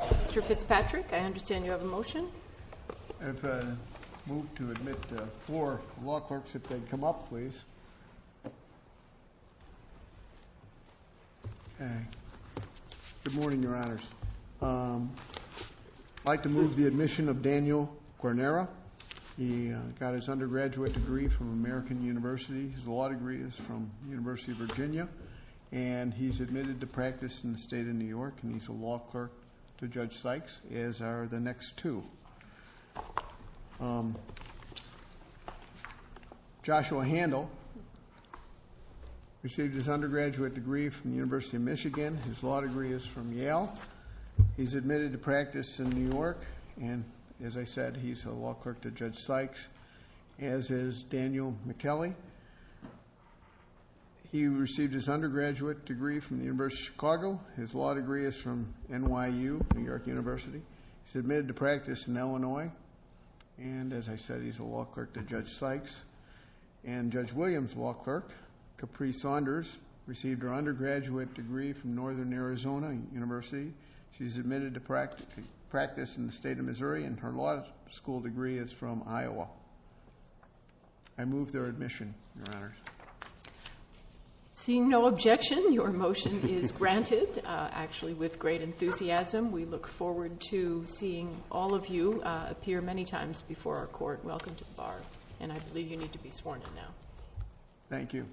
Mr. Fitzpatrick, I understand you have a motion. I'd like to move to admit four law clerks if they'd come up, please. Good morning, Your Honors. I'd like to move the admission of Daniel Guarnera. He got his undergraduate degree from American University. His law degree is from the University of Virginia. And he's admitted to practice in the state of New York. And he's a law clerk to Judge Sykes, as are the next two. Joshua Handel received his undergraduate degree from the University of Michigan. His law degree is from Yale. He's admitted to practice in New York. And, as I said, he's a law clerk to Judge Sykes, as is Daniel McKellie. He received his undergraduate degree from the University of Chicago. His law degree is from NYU, New York University. He's admitted to practice in Illinois. And, as I said, he's a law clerk to Judge Sykes. And Judge Williams' law clerk, Capri Saunders, received her undergraduate degree from Northern Arizona University. She's admitted to practice in the state of Missouri. And her law school degree is from Iowa. I move their admission, Your Honors. Seeing no objection, your motion is granted. Actually, with great enthusiasm, we look forward to seeing all of you appear many times before our court. Welcome to the bar. And I believe you need to be sworn in now. Thank you.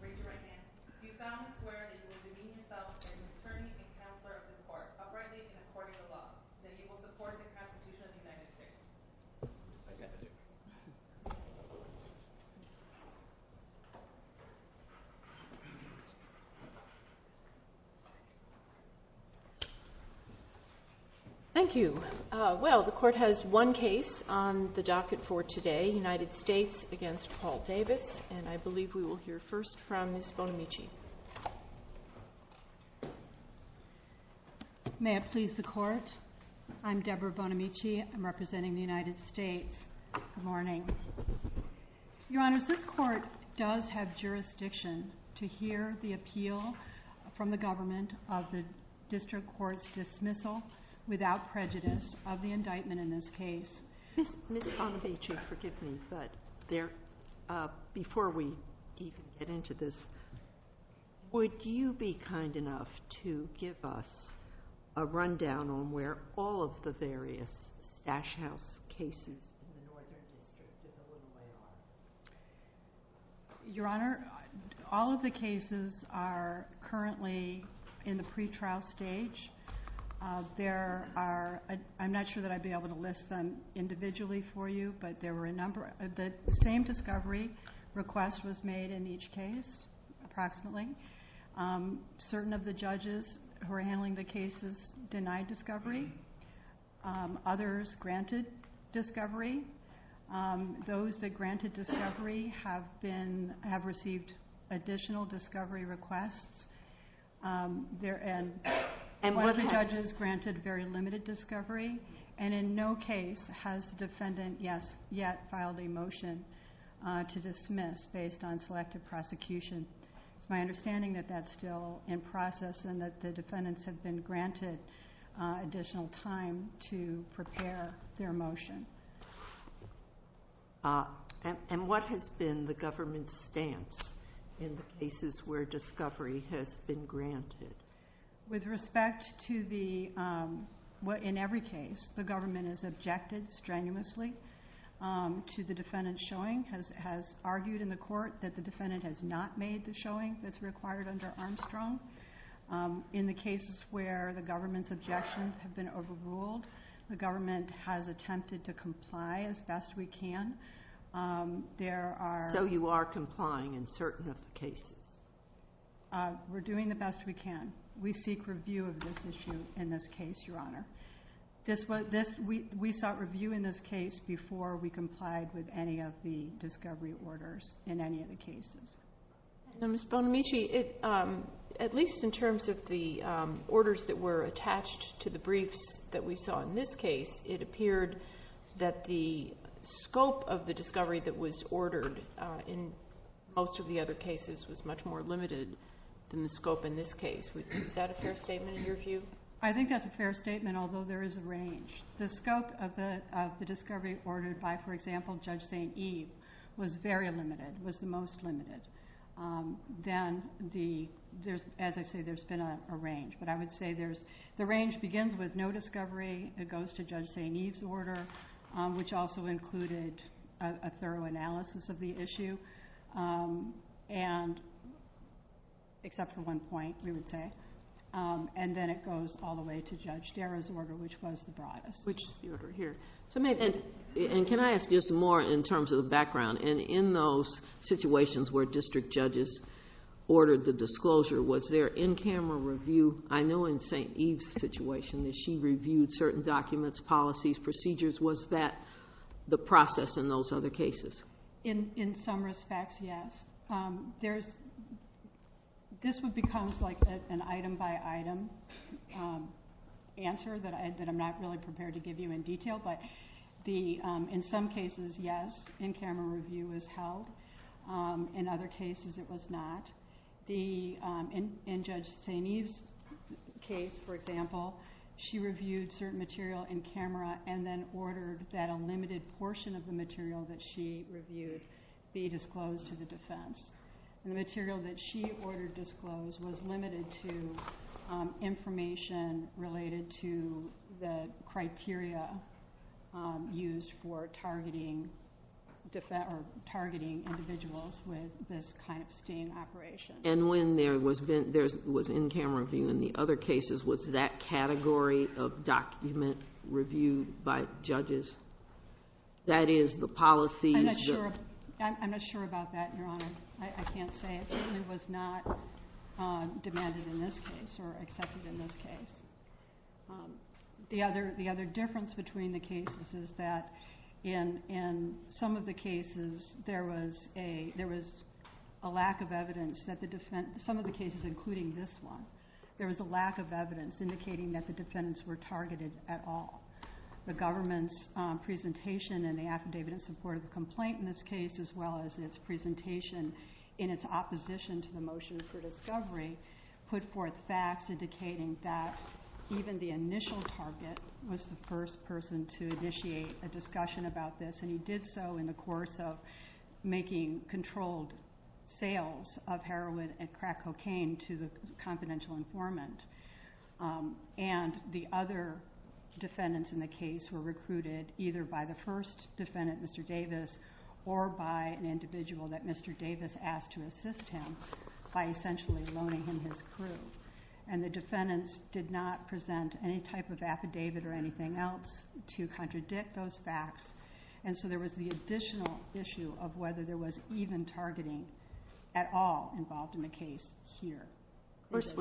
Great to see you again. We found Mr. Warren is a divine consultant, determined to be a counselor of the court, operating according to law. And he will support your prosecution in the United States. Thank you. Well, the court has one case on the docket for today. United States against Paul Davis. And I believe we will hear first from Ms. Bonamici. May I please the court? I'm Deborah Bonamici. I'm representing the United States. Good morning. Your Honors, this court does have jurisdiction to hear the appeal from the government of the district court's dismissal without prejudice of the indictment in this case. Ms. Bonamici, forgive me, but before we get into this, would you be kind enough to give us a rundown on where all of the various Dash House cases are? Your Honor, all of the cases are currently in the pretrial stage. I'm not sure that I'd be able to list them individually for you, but the same discovery request was made in each case, approximately. Certain of the judges who are handling the cases denied discovery. Others granted discovery. Those that granted discovery have received additional discovery requests. And were the judges granted very limited discovery? And in no case has the defendant yet filed a motion to dismiss based on selective prosecution. It's my understanding that that's still in process and that the defendants have been granted additional time to prepare their motion. And what has been the government's stance in the cases where discovery has been granted? With respect to the, in every case, the government has objected strenuously to the defendant's showing. It has argued in the court that the defendant has not made the showing that's required under Armstrong. In the cases where the government's objections have been overruled, the government has attempted to comply as best we can. So you are complying in certain of the cases? We're doing the best we can. We seek review of this issue in this case, Your Honor. We sought review in this case before we complied with any of the discovery orders in any of the cases. Ms. Bonamici, at least in terms of the orders that were attached to the briefs that we saw in this case, it appeared that the scope of the discovery that was ordered in most of the other cases was much more limited than the scope in this case. Is that a fair statement in your view? I think that's a fair statement, although there is a range. The scope of the discovery ordered by, for example, Judge St. Eve was very limited, was the most limited. Then, as I say, there's been a range. But I would say the range begins with no discovery. It goes to Judge St. Eve's order, which also included a thorough analysis of the issue, except for one point, we would say. Then it goes all the way to Judge Gerard's order, which goes the broadest. Can I ask this more in terms of the background? In those situations where district judges ordered the disclosure, was there in-camera review? I know in St. Eve's situation that she reviewed certain documents, policies, procedures. Was that the process in those other cases? In some respects, yes. This becomes like an item-by-item answer that I'm not really prepared to give you in detail. But in some cases, yes, in-camera review was held. In other cases, it was not. In Judge St. Eve's case, for example, she reviewed certain material in-camera and then ordered that a limited portion of the material that she reviewed be disclosed to the defense. The material that she ordered disclosed was limited to information related to the criteria used for targeting individuals with this kind of staying operation. And when there was in-camera review in the other cases, was that category of document reviewed by judges? That is, the policies? I'm not sure about that, Your Honor. I can't say. It was not demanded in this case or accepted in this case. The other difference between the cases is that in some of the cases, there was a lack of evidence. Some of the cases, including this one, there was a lack of evidence indicating that the defendants were targeted at all. The government's presentation and the affidavit in support of the complaint in this case, as well as its presentation in its opposition to the motion for discovery, put forth facts indicating that even the initial target was the first person to initiate a discussion about this, and he did so in the course of making controlled sales of heroin and crack cocaine to the confidential informant. And the other defendants in the case were recruited either by the first defendant, Mr. Davis, or by an individual that Mr. Davis asked to assist him by essentially loaning him his crew. And the defendants did not present any type of affidavit or anything else to contradict those facts, and so there was the additional issue of whether there was even targeting at all involved in the case here. First,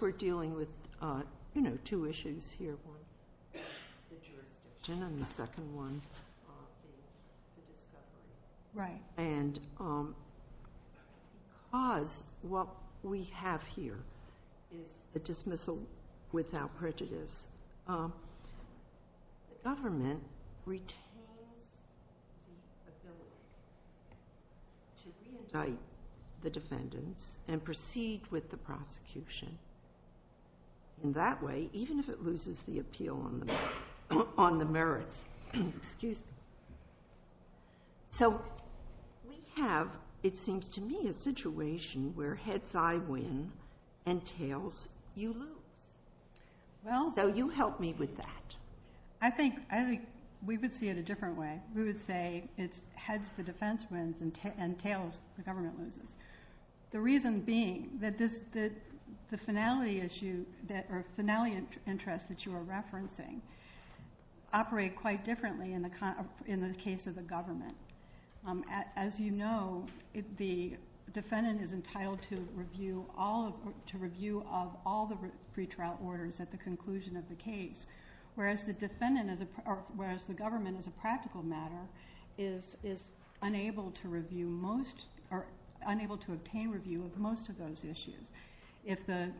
we're dealing with two issues here, one the jurisdiction and the second one the discovery. And because what we have here is a dismissal without prejudice, the government retains its ability to re-indict the defendants and proceed with the prosecution. In that way, even if it loses the appeal on the merits. So we have, it seems to me, a situation where heads I win and tails you lose. Well, though, you help me with that. I think we would see it a different way. We would say it's heads the defense wins and tails the government loses. The reason being that the finality issue or finality interest that you were referencing operated quite differently in the case of the government. As you know, the defendant is entitled to review of all the pretrial orders at the conclusion of the case, whereas the government, as a practical matter, is unable to obtain review of most of those issues. If there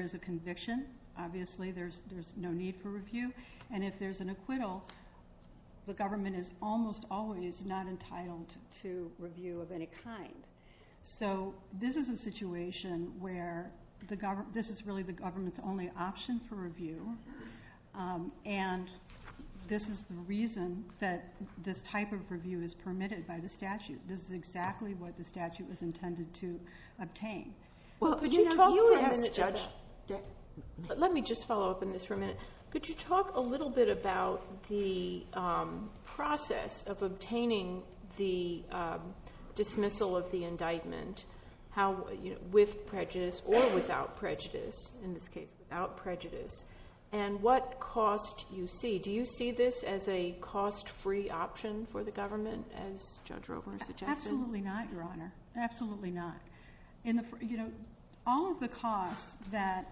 is a conviction, obviously there's no need for review. And if there's an acquittal, the government is almost always not entitled to review of any kind. So this is a situation where this is really the government's only option for review. And this is the reason that this type of review is permitted by the statute. This is exactly what the statute was intended to obtain. Let me just follow up on this for a minute. Could you talk a little bit about the process of obtaining the dismissal of the indictment with prejudice or without prejudice, in this case without prejudice, and what cost you see? Do you see this as a cost-free option for the government, as Judge Roeburn suggested? Absolutely not, Your Honor. Absolutely not. All of the costs that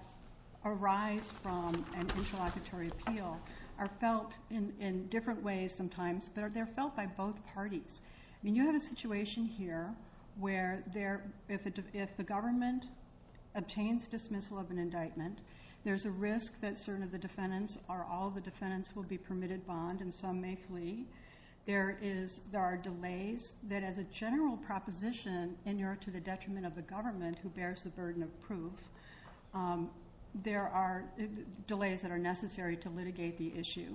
arise from an interlocutory appeal are felt in different ways sometimes. They're felt by both parties. You have a situation here where if the government obtains dismissal of an indictment, there's a risk that all of the defendants will be permitted bond, and some may flee. There are delays that, as a general proposition, inure to the detriment of the government who bears the burden of proof. There are delays that are necessary to litigate the issue.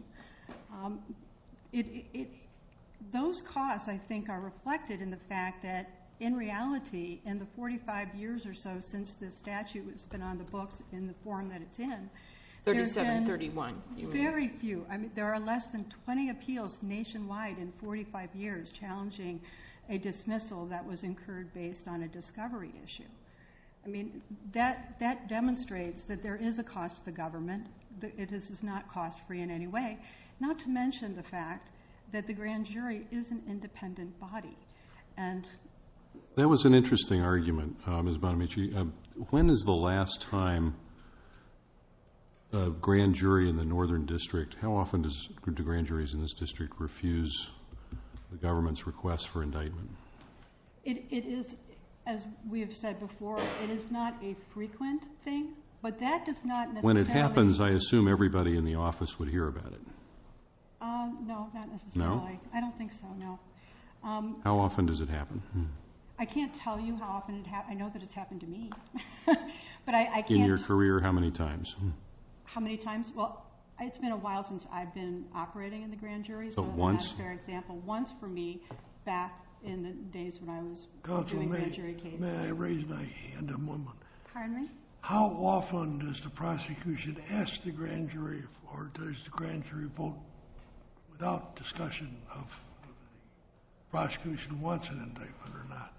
Those costs, I think, are reflected in the fact that, in reality, in the 45 years or so since the statute has been on the books in the form that it's in, there's been very few. I mean, there are less than 20 appeals nationwide in 45 years challenging a dismissal that was incurred based on a discovery issue. I mean, that demonstrates that there is a cost to the government. It is not cost-free in any way, not to mention the fact that the grand jury is an independent body. That was an interesting argument, Ms. Bonamici. When is the last time a grand jury in the Northern District, how often does a group of grand juries in this district refuse the government's request for indictment? It is, as we have said before, it is not a frequent thing, but that does not necessarily... When it happens, I assume everybody in the office would hear about it. No, not necessarily. No? I don't think so, no. How often does it happen? I can't tell you how often it happens. I know that it's happened to me, but I can't... In your career, how many times? How many times? Well, it's been a while since I've been operating in the grand juries. Once? That's a fair example. Once, for me, back in the days when I was doing grand jury cases. May I raise my hand a moment? Pardon me? How often does the prosecution ask the grand jury or does the grand jury vote without discussion of the prosecution wants an indictment or not?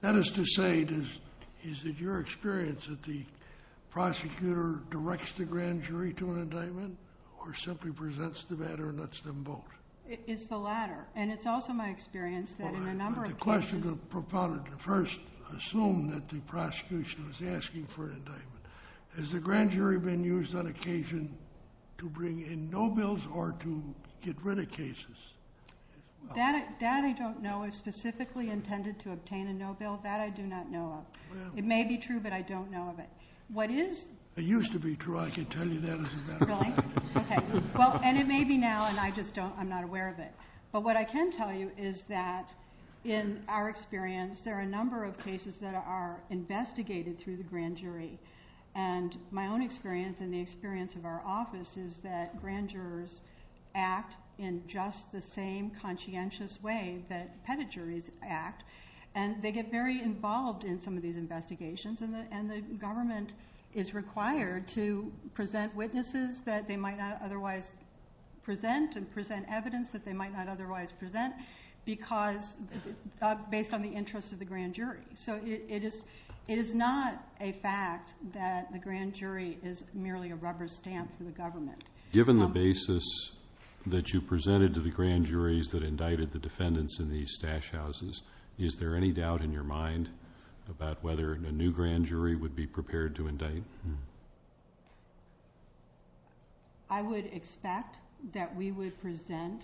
That is to say, is it your experience that the prosecutor directs the grand jury to an indictment or simply presents the matter and lets them vote? It's the latter, and it's also my experience that in a number of cases... I'm requesting the proponent to first assume that the prosecution is asking for an indictment. Has the grand jury been used on occasion to bring in no bills or to get rid of cases? That I don't know. It's specifically intended to obtain a no bill. That I do not know of. It may be true, but I don't know of it. What is... It used to be true. I can tell you that as a matter of fact. Okay. Well, and it may be now, and I'm not aware of it. But what I can tell you is that in our experience, there are a number of cases that are investigated through the grand jury. And my own experience, and the experience of our office, is that grand jurors act in just the same conscientious way that pedigrees act. And they get very involved in some of these investigations, and the government is required to present witnesses that they might not otherwise present and present evidence that they might not otherwise present based on the interests of the grand jury. So it is not a fact that the grand jury is merely a rubber stamp for the government. Given the basis that you presented to the grand juries that indicted the defendants in these stash houses, is there any doubt in your mind about whether a new grand jury would be prepared to indict? I would expect that we would present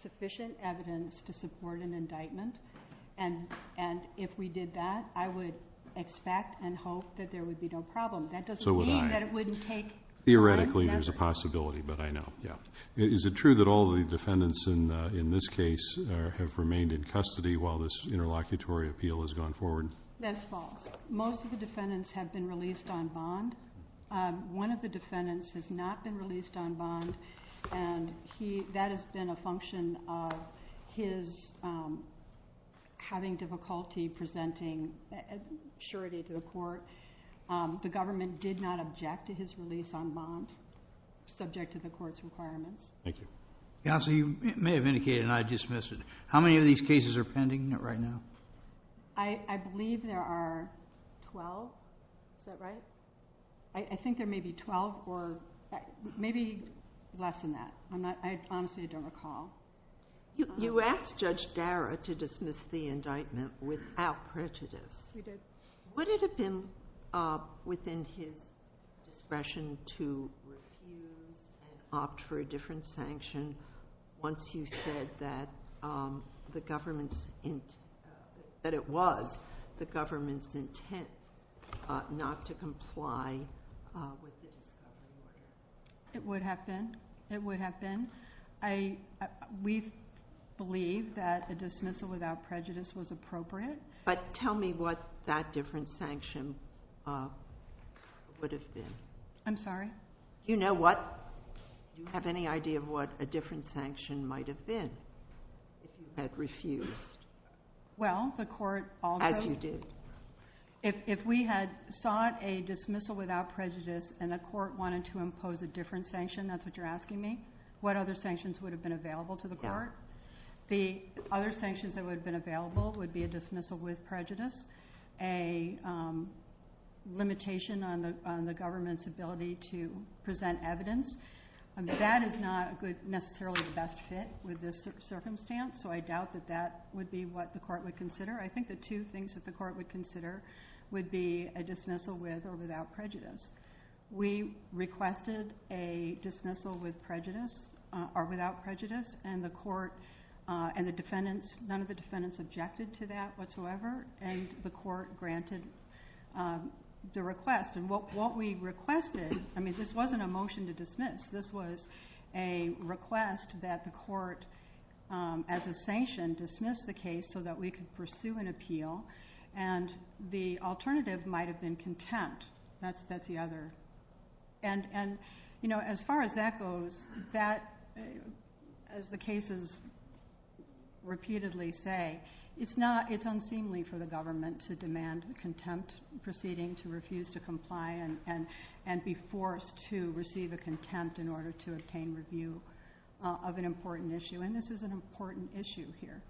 sufficient evidence to support an indictment. And if we did that, I would expect and hope that there would be no problem. That doesn't mean that it wouldn't take— Theoretically, there's a possibility, but I know. Is it true that all the defendants in this case have remained in custody while this interlocutory appeal has gone forward? That's false. Most of the defendants have been released on bond. One of the defendants has not been released on bond, and that has been a function of his having difficulty presenting surety to the court. The government did not object to his release on bond, subject to the court's requirements. Thank you. Counsel, you may have indicated, and I dismiss it, how many of these cases are pending right now? I believe there are 12. Is that right? I think there may be 12 or maybe less than that. I honestly don't recall. You asked Judge Dara to dismiss the indictment without prejudice. Would it have been within his discretion to refuse and opt for a different sanction once he said that it was the government's intent not to comply with the indictment? It would have been. It would have been. We believe that a dismissal without prejudice was appropriate. But tell me what that different sanction would have been. I'm sorry? You know what? Do you have any idea of what a different sanction might have been if you had refused? Well, the court also— As you did. If we had sought a dismissal without prejudice and the court wanted to impose a different sanction, that's what you're asking me, what other sanctions would have been available to the court? The other sanctions that would have been available would be a dismissal with prejudice, a limitation on the government's ability to present evidence. That is not necessarily the best fit with this circumstance, so I doubt that that would be what the court would consider. I think the two things that the court would consider would be a dismissal with or without prejudice. We requested a dismissal with prejudice or without prejudice, and the court and the defendants—none of the defendants objected to that whatsoever, and the court granted the request. What we requested—I mean, this wasn't a motion to dismiss. This was a request that the court, as a sanction, dismiss the case so that we could pursue an appeal, and the alternative might have been contempt. That's the other. As far as that goes, as the cases repeatedly say, it's unseemly for the government to demand contempt proceedings, to refuse to comply and be forced to receive a contempt in order to obtain review of an important issue, and this is an important issue here.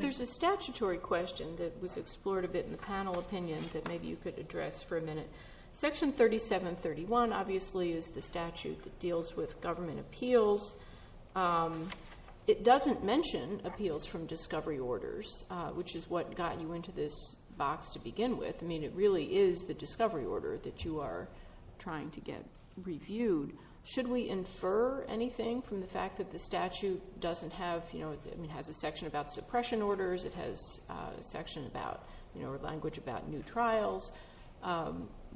There's a statutory question that was explored a bit in the panel opinions that maybe you could address for a minute. Section 3731, obviously, is the statute that deals with government appeals. It doesn't mention appeals from discovery orders, which is what got you into this box to begin with. I mean, it really is the discovery order that you are trying to get reviewed. Should we infer anything from the fact that the statute doesn't have— or language about new trials?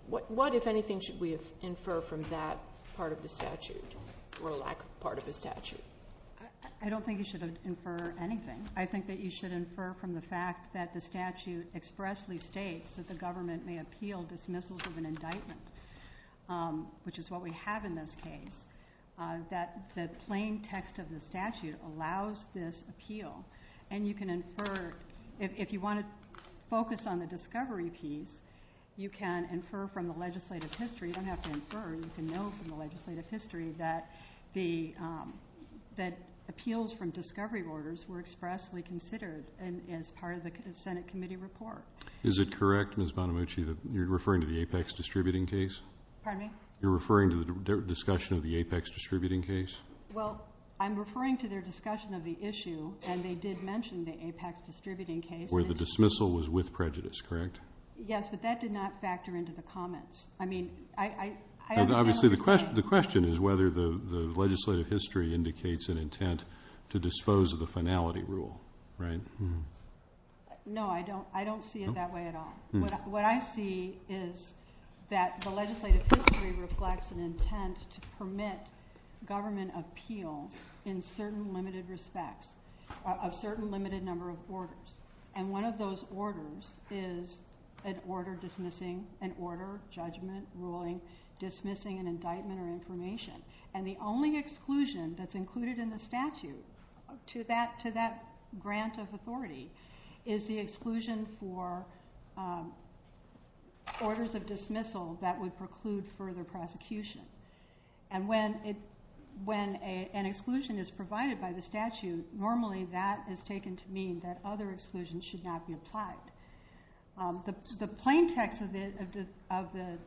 What, if anything, should we infer from that part of the statute or part of the statute? I don't think you should infer anything. I think that you should infer from the fact that the statute expressly states that the government may appeal dismissals of an indictment, which is what we have in this case, that the plain text of the statute allows this appeal, and you can infer—if you want to focus on the discovery piece, you can infer from the legislative history. You don't have to infer. You can know from the legislative history that appeals from discovery orders were expressly considered as part of the Senate committee report. Is it correct, Ms. Bonamici, that you're referring to the APEX distributing case? Pardon me? You're referring to the discussion of the APEX distributing case? Well, I'm referring to their discussion of the issue, and they did mention the APEX distributing case. Where the dismissal was with prejudice, correct? Yes, but that did not factor into the comments. I mean, I don't know— Obviously, the question is whether the legislative history indicates an intent to dispose of the finality rule, right? No, I don't see it that way at all. What I see is that the legislative history reflects an intent to permit government appeal in certain limited respects, a certain limited number of orders. And one of those orders is an order dismissing an order, judgment, ruling, dismissing an indictment or information. And the only exclusion that's included in the statute to that grant of authority is the exclusion for orders of dismissal that would preclude further prosecution. And when an exclusion is provided by the statute, normally that is taken to mean that other exclusions should not be applied. The plain text of the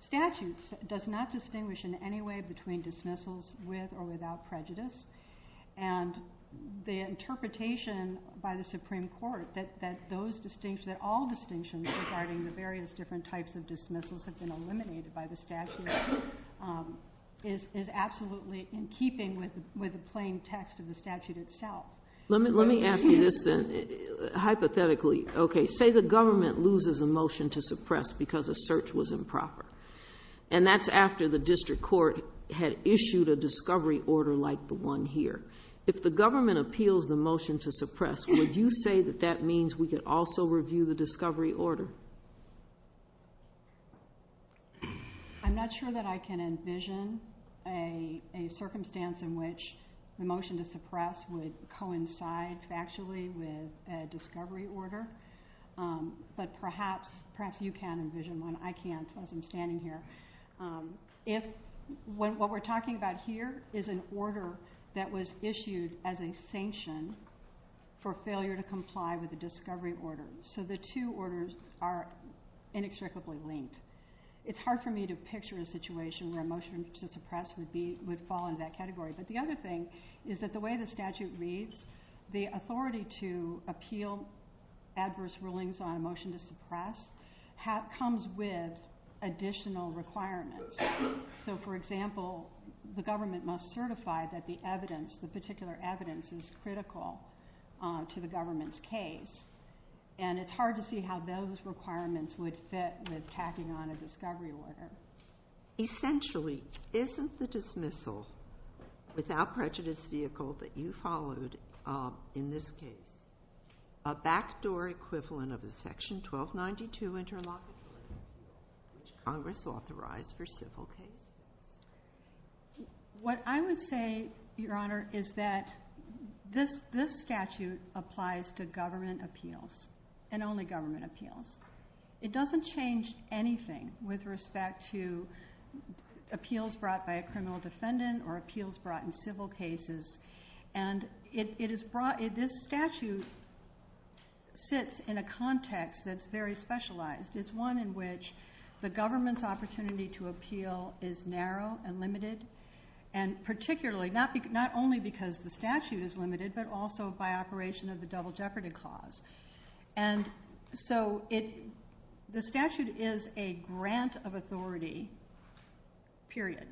statute does not distinguish in any way between dismissals with or without prejudice. And the interpretation by the Supreme Court that all distinctions regarding the various different types of dismissals have been eliminated by the statute is absolutely in keeping with the plain text of the statute itself. Let me ask you this then, hypothetically. Okay, say the government loses a motion to suppress because a search was improper. And that's after the district court had issued a discovery order like the one here. If the government appeals the motion to suppress, would you say that that means we could also review the discovery order? I'm not sure that I can envision a circumstance in which the motion to suppress would coincide factually with a discovery order. But perhaps you can envision one. I can't as I'm standing here. What we're talking about here is an order that was issued as a sanction for failure to comply with the discovery order. So the two orders are inextricably linked. It's hard for me to picture a situation where a motion to suppress would fall in that category. But the other thing is that the way the statute reads, the authority to appeal adverse rulings on a motion to suppress comes with additional requirements. So for example, the government must certify that the evidence, the particular evidence is critical to the government's case. And it's hard to see how those requirements would fit with tacking on a discovery order. Essentially, isn't the dismissal without prejudice vehicle that you followed in this case a backdoor equivalent of the section 1292 interlock, which Congress authorized for civil cases? What I would say, Your Honor, is that this statute applies to government appeals and only government appeals. It doesn't change anything with respect to appeals brought by a criminal defendant or appeals brought in civil cases. And this statute sits in a context that's very specialized. It's one in which the government's opportunity to appeal is narrow and limited, and particularly not only because the statute is limited, but also by operation of the double jeopardy clause. And so the statute is a grant of authority, period.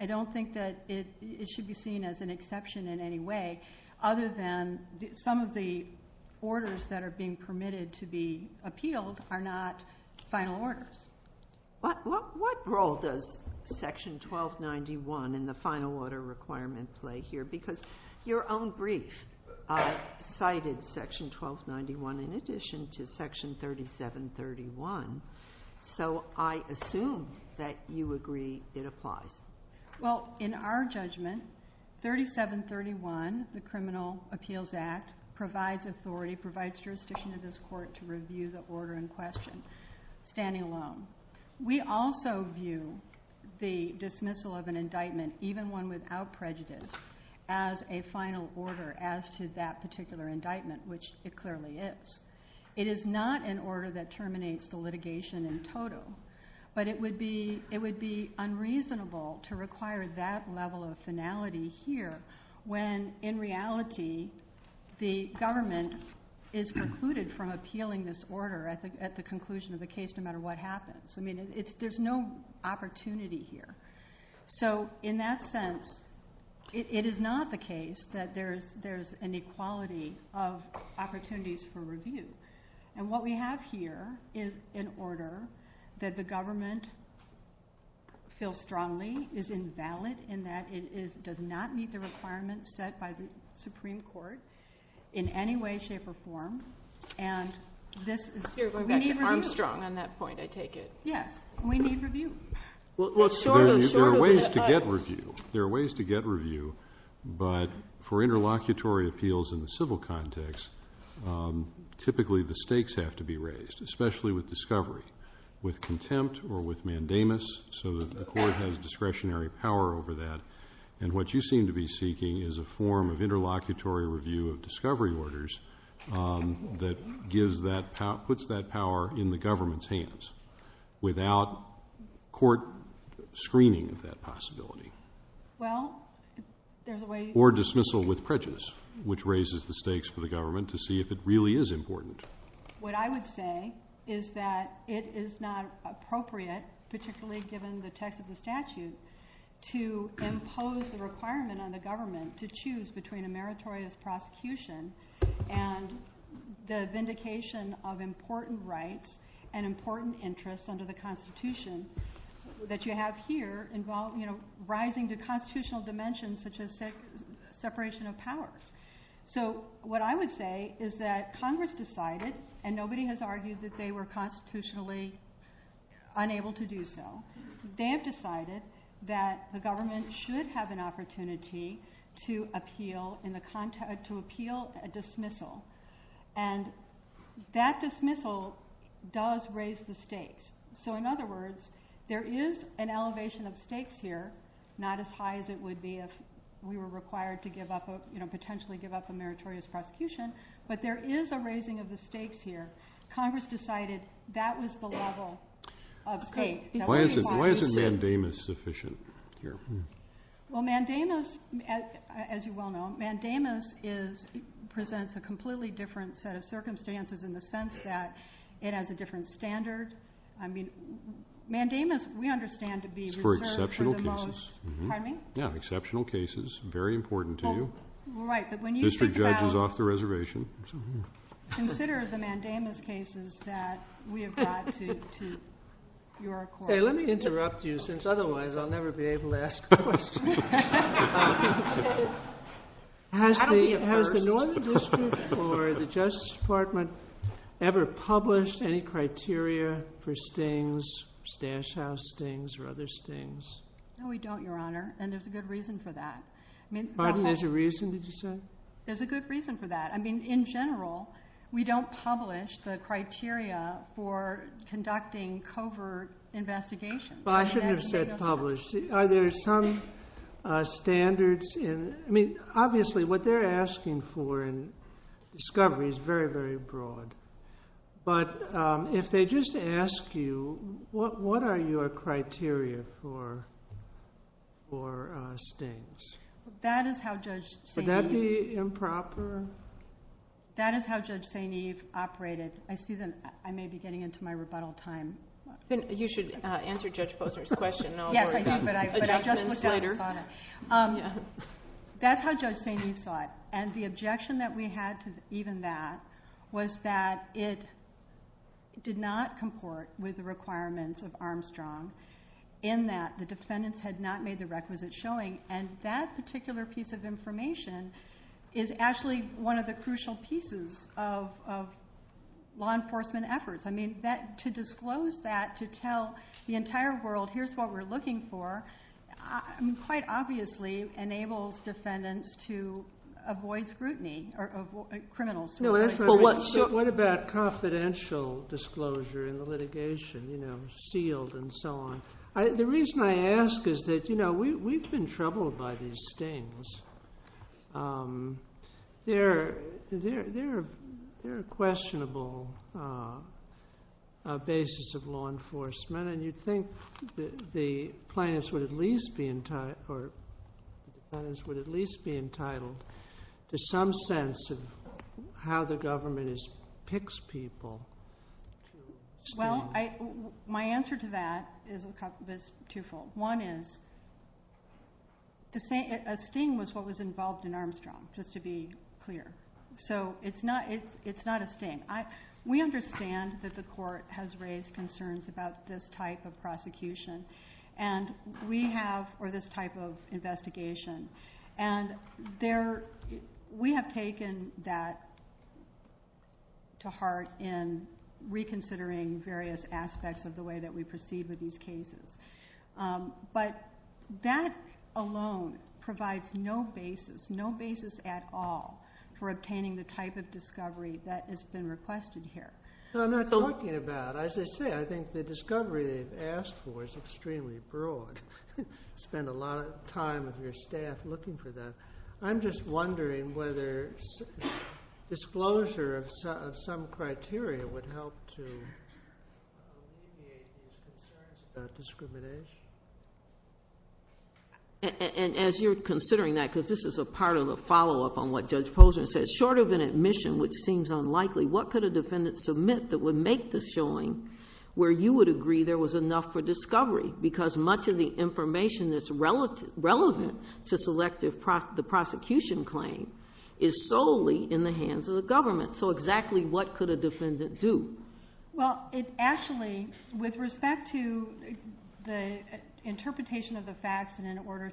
I don't think that it should be seen as an exception in any way other than some of the orders that are being permitted to be appealed are not final orders. What role does section 1291 in the final order requirement play here? Because your own brief cited section 1291 in addition to section 3731, so I assume that you agree it applies. Well, in our judgment, 3731, the Criminal Appeals Act, provides authority, provides jurisdiction to this court to review the order in question. Standing alone. We also view the dismissal of an indictment, even one without prejudice, as a final order as to that particular indictment, which it clearly is. It is not an order that terminates the litigation in total, but it would be unreasonable to require that level of finality here when, in reality, the government is precluded from appealing this order at the conclusion of the case no matter what happens. There's no opportunity here. So in that sense, it is not the case that there's an equality of opportunities for review. And what we have here is an order that the government feels strongly is invalid in that it does not meet the requirements set by the Supreme Court in any way, shape, or form. I'm strong on that point, I take it. Yes, we need review. There are ways to get review, but for interlocutory appeals in the civil context, typically the stakes have to be raised, especially with discovery, with contempt or with mandamus, so that the court has discretionary power over that. And what you seem to be seeking is a form of interlocutory review of discovery orders that puts that power in the government's hands without court screening that possibility. Or dismissal with prejudice, which raises the stakes for the government to see if it really is important. What I would say is that it is not appropriate, particularly given the text of the statute, to impose a requirement on the government to choose between a meritorious prosecution and the vindication of important rights and important interests under the Constitution that you have here, rising to constitutional dimensions such as separation of powers. So what I would say is that Congress decided, and nobody has argued that they were constitutionally unable to do so, they have decided that the government should have an opportunity to appeal a dismissal. And that dismissal does raise the stakes. So in other words, there is an elevation of stakes here, not as high as it would be if we were required to potentially give up a meritorious prosecution, but there is a raising of the stakes here. Congress decided that was the level of stakes. Why isn't mandamus sufficient here? Well, mandamus, as you well know, mandamus presents a completely different set of circumstances in the sense that it has a different standard. I mean, mandamus, we understand to be reserved for the most... For exceptional cases. Pardon me? Yeah, exceptional cases, very important to you. Right, but when you... District judge is off the reservation. Consider the mandamus cases that we have brought to your court. Let me interrupt you since otherwise I'll never be able to ask questions. Has the Northern District or the Justice Department ever published any criteria for stings, stash house stings, or other stings? No, we don't, Your Honor, and there's a good reason for that. Pardon, there's a reason, did you say? There's a good reason for that. I mean, in general, we don't publish the criteria for conducting covert investigations. Well, I shouldn't have said publish. Are there some standards in... I mean, obviously, what they're asking for in discovery is very, very broad, but if they just ask you, what are your criteria for stings? That is how Judge St. Eve... Would that be improper? That is how Judge St. Eve operated. I see that I may be getting into my rebuttal time. You should answer Judge Posner's question. Yes, I did, but I just looked up about it. That's how Judge St. Eve saw it, and the objection that we had to even that was that it did not comport with the requirements of Armstrong in that the defendants had not made the requisite showing, and that particular piece of information is actually one of the crucial pieces of law enforcement efforts. I mean, to disclose that, to tell the entire world, here's what we're looking for, quite obviously enables defendants to avoid scrutiny, or criminals. What about confidential disclosure in the litigation, you know, sealed and so on? The reason I ask is that, you know, we've been troubled by these stings. They're a questionable basis of law enforcement, and you'd think the plaintiffs would at least be entitled to some sense of how the government picks people. Well, my answer to that is twofold. One is, a sting was what was involved in Armstrong, just to be clear, so it's not a sting. We understand that the court has raised concerns about this type of investigation, and we have taken that to heart in reconsidering various aspects of the way that we proceed with these cases. But that alone provides no basis, no basis at all, for obtaining the type of discovery that has been requested here. So I'm not talking about, as I said, I think the discovery they've asked for is extremely broad. You spend a lot of time with your staff looking for that. I'm just wondering whether disclosure of some criteria would help to alleviate these concerns about discrimination. And as you're considering that, because this is a part of a follow-up on what Judge Posner said, short of an admission which seems unlikely, what could a defendant submit that would make the showing where you would agree there was enough for discovery, because much of the information that's relevant to select the prosecution claim is solely in the hands of the government. So exactly what could a defendant do? Well, it actually, with respect to the interpretation of the facts, and in order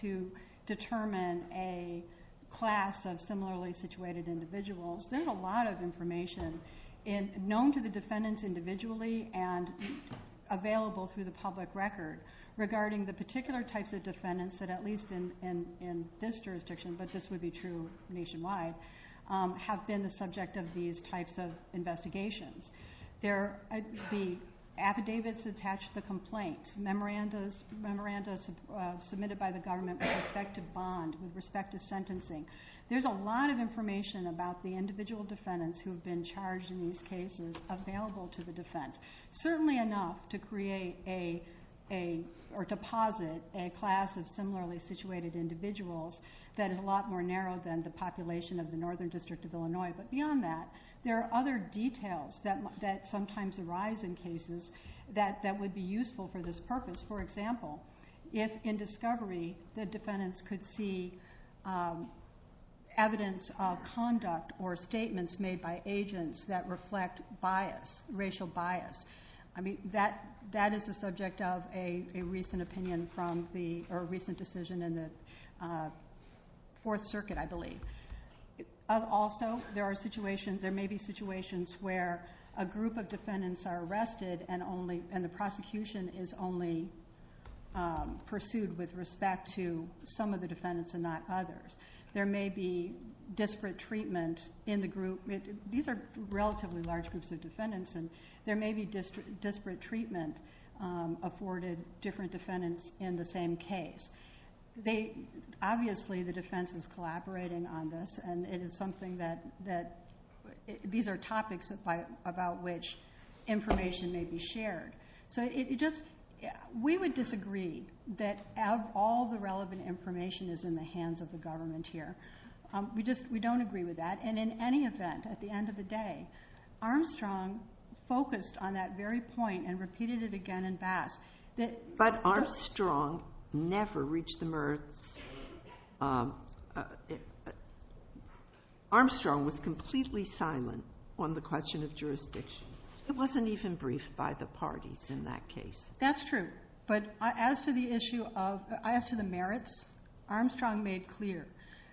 to determine a class of similarly situated individuals, there's a lot of information, known to the defendants individually and available through the public record, regarding the particular types of defendants that at least in this jurisdiction, but this would be true nationwide, have been the subject of these types of investigations. There are the affidavits attached to the complaint, memorandums submitted by the government with respect to bond, with respect to sentencing. There's a lot of information about the individual defendants who have been charged in these cases available to the defense. Certainly enough to create or deposit a class of similarly situated individuals that is a lot more narrow than the population of the Northern District of Illinois. But beyond that, there are other details that sometimes arise in cases that would be useful for this purpose. For example, if in discovery the defendants could see evidence of conduct or statements made by agents that reflect bias, racial bias. I mean, that is the subject of a recent decision in the Fourth Circuit, I believe. Also, there may be situations where a group of defendants are arrested and the prosecution is only pursued with respect to some of the defendants and not others. There may be disparate treatment in the group. These are relatively large groups of defendants and there may be disparate treatment afforded different defendants in the same case. Obviously, the defense is collaborating on this and these are topics about which information may be shared. We would disagree that all the relevant information is in the hands of the government here. We don't agree with that. And in any event, at the end of the day, Armstrong focused on that very point and repeated it again and again. But Armstrong never reached the merits. Armstrong was completely silent on the question of jurisdiction. It wasn't even briefed by the parties in that case. That's true. But as to the merits, Armstrong made clear.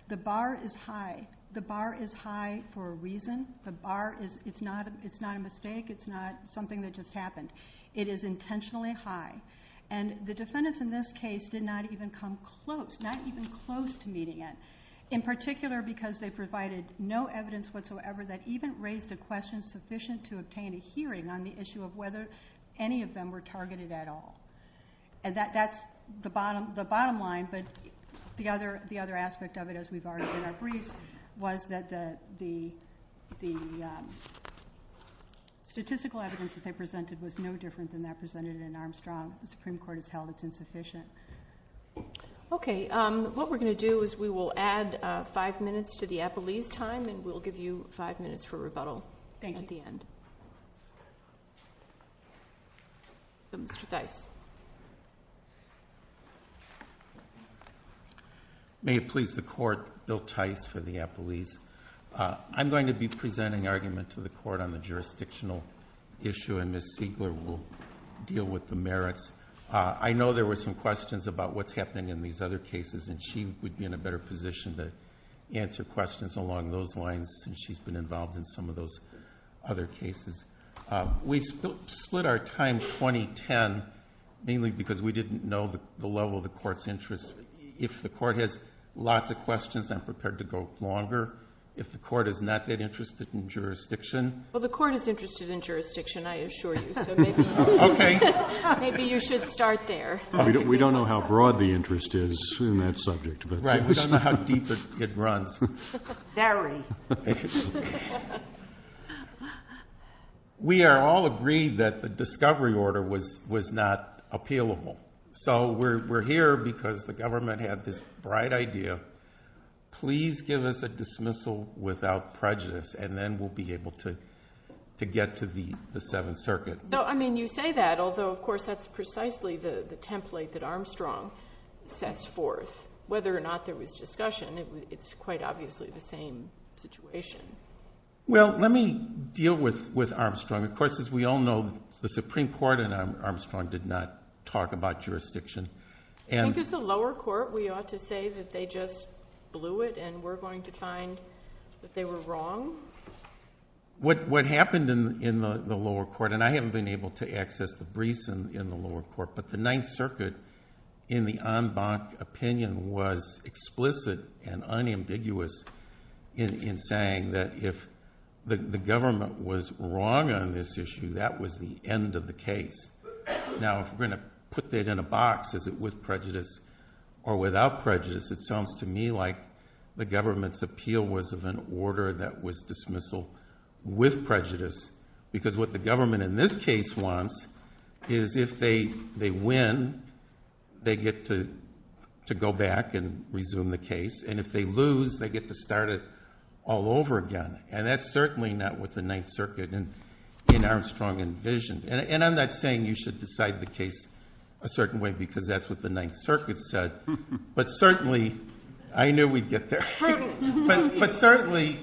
The bar is high. The bar is high for a reason. The bar is not a mistake. It's not something that just happened. It is intentionally high. And the defendants in this case did not even come close, not even close to meeting it. In particular, because they provided no evidence whatsoever that even raised a question sufficient to obtain a hearing on the issue of whether any of them were targeted at all. That's the bottom line. But the other aspect of it, as we've already agreed, was that the statistical evidence that they presented was no different than that presented in Armstrong. The Supreme Court has held it's insufficient. Okay. What we're going to do is we will add five minutes to the appellee's time and we'll give you five minutes for rebuttal. Thank you. At the end. Bill Tice. May it please the Court, Bill Tice for the appellees. I'm going to be presenting arguments to the Court on the jurisdictional issue and Ms. Stigler will deal with the merits. I know there were some questions about what's happening in these other cases and she would be in a better position to answer questions along those lines since she's been involved in some of those other cases. We split our time 20-10 mainly because we didn't know the level of the Court's interest. If the Court has lots of questions, I'm prepared to go longer. If the Court is not that interested in jurisdiction. Well, the Court is interested in jurisdiction, I assure you. Maybe you should start there. We don't know how broad the interest is in that subject. Right. We don't know how deep it runs. Very. We are all agreed that the discovery order was not appealable. So we're here because the government had this bright idea. Please give us a dismissal without prejudice and then we'll be able to get to the Seventh Circuit. You say that, although of course that's precisely the template that Armstrong sets forth. Whether or not there was discussion, it's quite obviously the same situation. Well, let me deal with Armstrong. Of course, as we all know, the Supreme Court and Armstrong did not talk about jurisdiction. This is the lower court. We ought to say that they just blew it and we're going to find that they were wrong. What happened in the lower court, and I haven't been able to access the briefs in the lower court, but the Ninth Circuit, in the en banc opinion, was explicit and unambiguous in saying that if the government was wrong on this issue, that was the end of the case. Now, if we're going to put that in a box, is it with prejudice or without prejudice, it sounds to me like the government's appeal was of an order that was dismissal with prejudice because what the government in this case wants is if they win, they get to go back and resume the case, and if they lose, they get to start it all over again. That's certainly not what the Ninth Circuit and Armstrong envisioned. I'm not saying you should decide the case a certain way because that's what the Ninth Circuit said, but certainly, I knew we'd get there, but certainly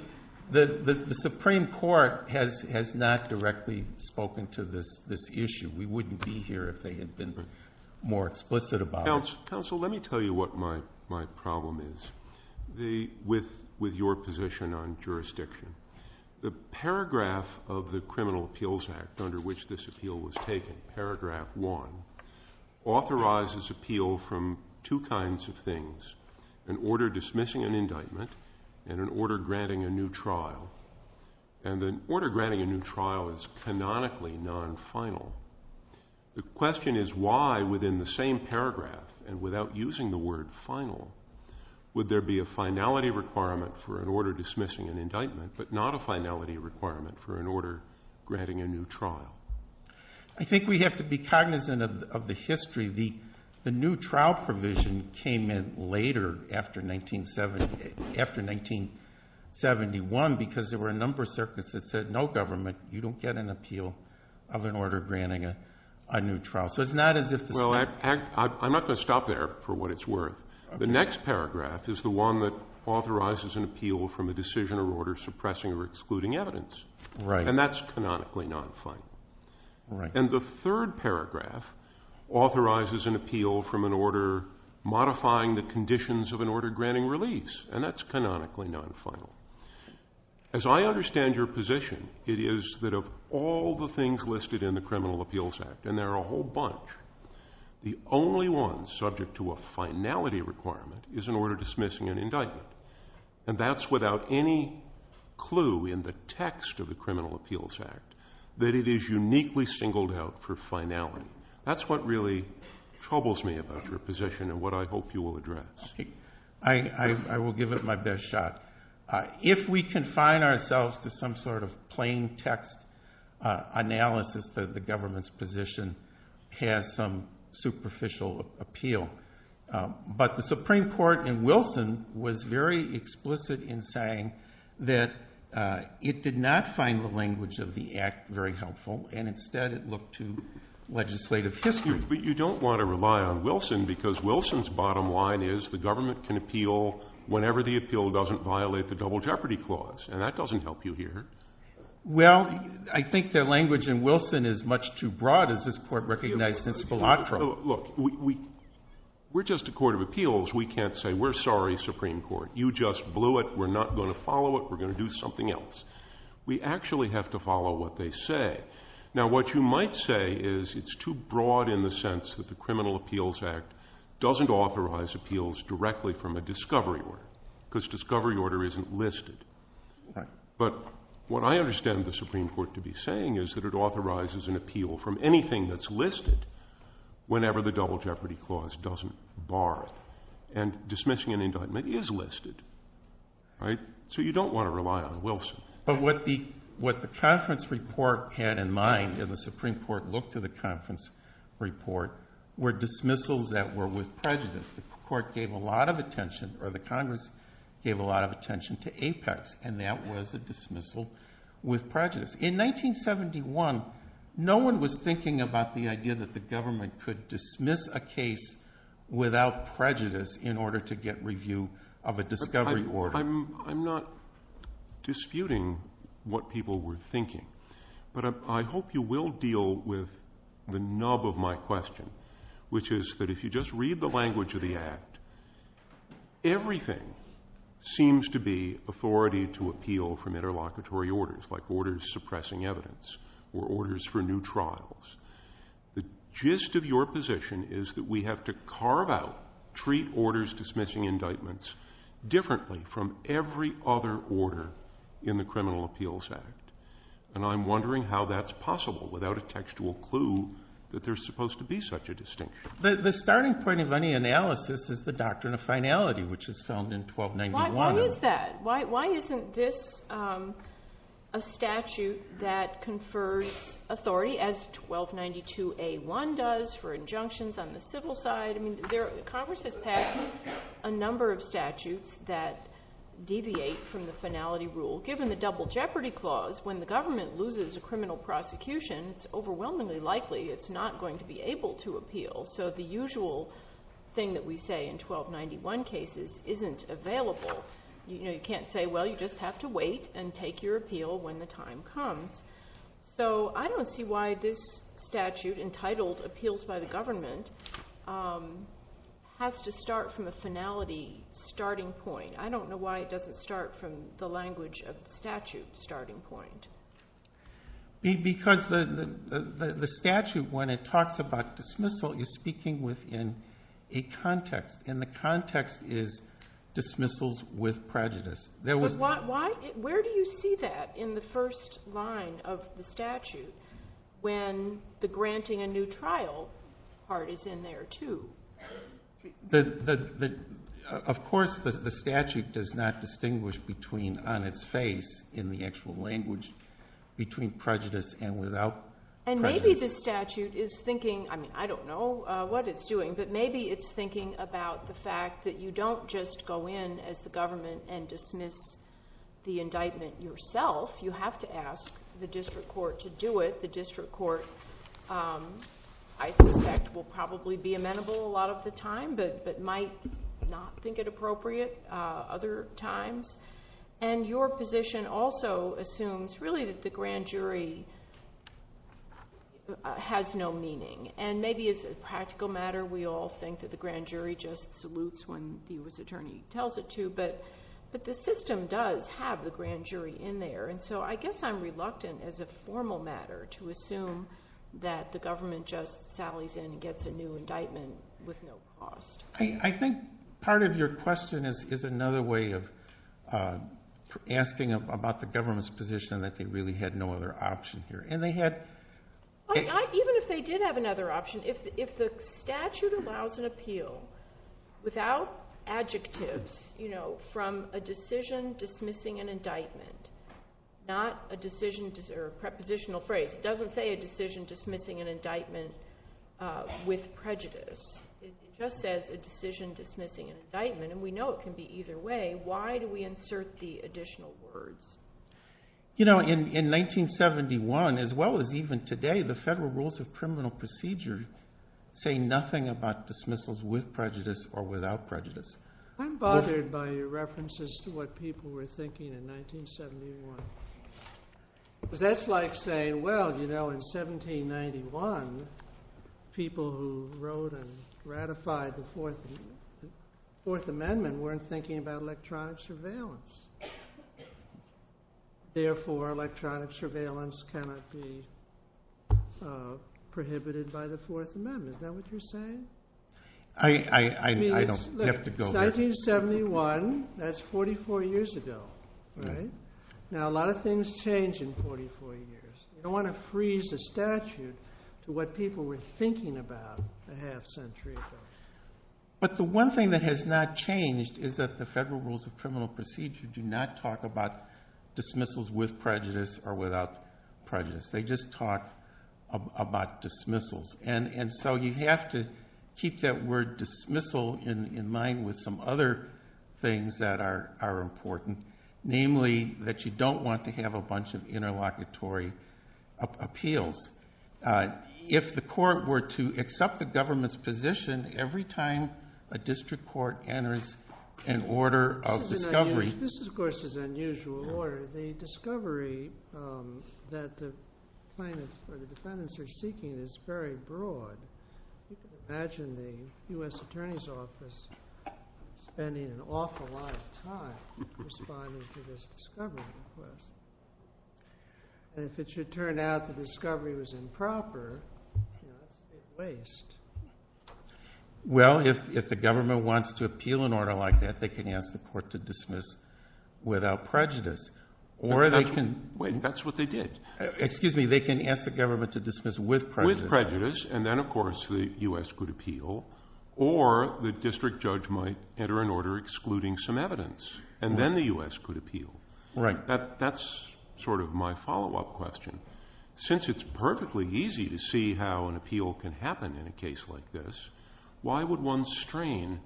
the Supreme Court has not directly spoken to this issue. We wouldn't be here if they had been more explicit about it. Counsel, let me tell you what my problem is with your position on jurisdiction. The paragraph of the Criminal Appeals Act under which this appeal was taken, paragraph one, authorizes appeal from two kinds of things, an order dismissing an indictment and an order granting a new trial, and an order granting a new trial is canonically non-final. The question is why, within the same paragraph and without using the word final, would there be a finality requirement for an order dismissing an indictment but not a finality requirement for an order granting a new trial? I think we have to be cognizant of the history. The new trial provision came in later, after 1971, because there were a number of circuits that said, no, government, you don't get an appeal of an order granting a new trial. I'm not going to stop there for what it's worth. The next paragraph is the one that authorizes an appeal from a decision or order suppressing or excluding evidence, and that's canonically non-final. And the third paragraph authorizes an appeal from an order modifying the conditions of an order granting release, and that's canonically non-final. As I understand your position, it is that of all the things listed in the Criminal Appeals Act, and there are a whole bunch, the only one subject to a finality requirement is an order dismissing an indictment, and that's without any clue in the text of the Criminal Appeals Act that it is uniquely singled out for finality. That's what really troubles me about your position and what I hope you will address. I will give it my best shot. If we confine ourselves to some sort of plain text analysis that the government's position has some superficial appeal, but the Supreme Court in Wilson was very explicit in saying that it did not find the language of the Act very helpful, and instead it looked to legislative history. But you don't want to rely on Wilson because Wilson's bottom line is the government can appeal whenever the appeal doesn't violate the Double Jeopardy Clause, and that doesn't help you here. Well, I think their language in Wilson is much too broad, as this Court recognizes, it's volatile. Look, we're just a court of appeals. We can't say we're sorry, Supreme Court, you just blew it, we're not going to follow it, we're going to do something else. We actually have to follow what they say. Now what you might say is it's too broad in the sense that the Criminal Appeals Act doesn't authorize appeals directly from a discovery order because discovery order isn't listed. But what I understand the Supreme Court to be saying is that it authorizes an appeal from anything that's listed whenever the Double Jeopardy Clause doesn't bar it. And dismissing an indictment is listed. So you don't want to rely on Wilson. But what the conference report had in mind, and the Supreme Court looked to the conference report, were dismissals that were with prejudice. The Court gave a lot of attention, or the Congress gave a lot of attention to Apex, and that was a dismissal with prejudice. In 1971, no one was thinking about the idea that the government could dismiss a case without prejudice in order to get review of a discovery order. I'm not disputing what people were thinking, but I hope you will deal with the nub of my question, which is that if you just read the language of the Act, everything seems to be authority to appeal from interlocutory orders, like orders suppressing evidence or orders for new trials. The gist of your position is that we have to carve out, treat orders dismissing indictments differently from every other order in the Criminal Appeals Act. And I'm wondering how that's possible without a textual clue that there's supposed to be such a distinction. The starting point of any analysis is the doctrine of finality, which is found in 1291. Why is that? Why isn't this a statute that confers authority, as 1292A1 does, for injunctions on the civil side? Congress has passed a number of statutes that deviate from the finality rule. Given the double jeopardy clause, when the government loses a criminal prosecution, it's overwhelmingly likely it's not going to be able to appeal. So the usual thing that we say in 1291 cases isn't available. You can't say, well, you just have to wait and take your appeal when the time comes. So I don't see why this statute, entitled Appeals by the Government, has to start from a finality starting point. I don't know why it doesn't start from the language of statute starting point. Because the statute, when it talks about dismissal, you're speaking within a context, and the context is dismissals with prejudice. Where do you see that in the first line of the statute, when the granting a new trial part is in there, too? Of course, the statute does not distinguish between, on its face, in the actual language, between prejudice and without prejudice. And maybe the statute is thinking, I don't know what it's doing, but maybe it's thinking about the fact that you don't just go in as the government and dismiss the indictment yourself. You have to ask the district court to do it. The district court, I suspect, will probably be amenable a lot of the time, but might not think it appropriate other times. And your position also assumes, really, that the grand jury has no meaning. And maybe it's a practical matter. We all think that the grand jury just salutes when the U.S. attorney tells it to. But the system does have the grand jury in there. And so I guess I'm reluctant, as a formal matter, to assume that the government just sallies in and gets a new indictment with no cause. I think part of your question is another way of asking about the government's position, that they really had no other option here. Even if they did have another option, if the statute allows an appeal, without adjectives, from a decision dismissing an indictment, not a decision, or a prepositional phrase, it doesn't say a decision dismissing an indictment with prejudice. It just says a decision dismissing an indictment. And we know it can be either way. Why do we insert the additional words? You know, in 1971, as well as even today, the federal rules of criminal procedure say nothing about dismissals with prejudice or without prejudice. I'm bothered by your references to what people were thinking in 1971. That's like saying, well, you know, in 1791, people who wrote and ratified the Fourth Amendment weren't thinking about electronic surveillance. Therefore, electronic surveillance cannot be prohibited by the Fourth Amendment. Is that what you're saying? I don't have to build it. 1971, that's 44 years ago. Now, a lot of things change in 44 years. I don't want to freeze the statute to what people were thinking about a half century ago. But the one thing that has not changed is that the federal rules of criminal procedure do not talk about dismissals with prejudice or without prejudice. They just talk about dismissals. And so you have to keep that word dismissal in mind with some other things that are important. Namely, that you don't want to have a bunch of interlocutory appeals. If the court were to accept the government's position every time a district court enters an order of discovery. This, of course, is an unusual order. The discovery that the defendants are seeking is very broad. Imagine the U.S. Attorney's Office spending an awful lot of time responding to this discovery request. And if it should turn out the discovery was improper, it would be a waste. Well, if the government wants to appeal an order like that, they can ask the court to dismiss without prejudice. That's what they did. Excuse me, they can ask the government to dismiss with prejudice. With prejudice. And then, of course, the U.S. could appeal. Or the district judge might enter an order excluding some evidence. And then the U.S. could appeal. Right. That's sort of my follow-up question. Since it's perfectly easy to see how an appeal can happen in a case like this, why would one strain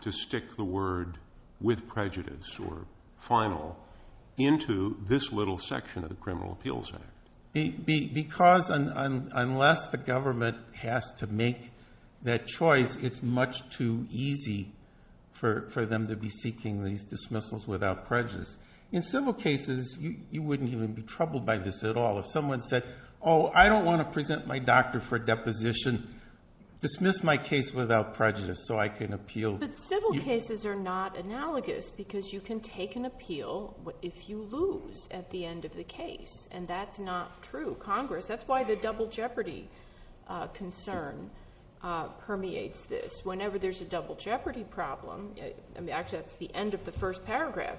to stick the word with prejudice or final into this little section of the criminal appeals? Because unless the government has to make that choice, it's much too easy for them to be seeking these dismissals without prejudice. In civil cases, you wouldn't even be troubled by this at all. If someone said, oh, I don't want to present my doctor for deposition, dismiss my case without prejudice so I can appeal. But civil cases are not analogous because you can take an appeal if you lose at the end of the case. And that's not true. Congress, that's why the double jeopardy concern permeates this. Whenever there's a double jeopardy problem, actually that's the end of the first paragraph,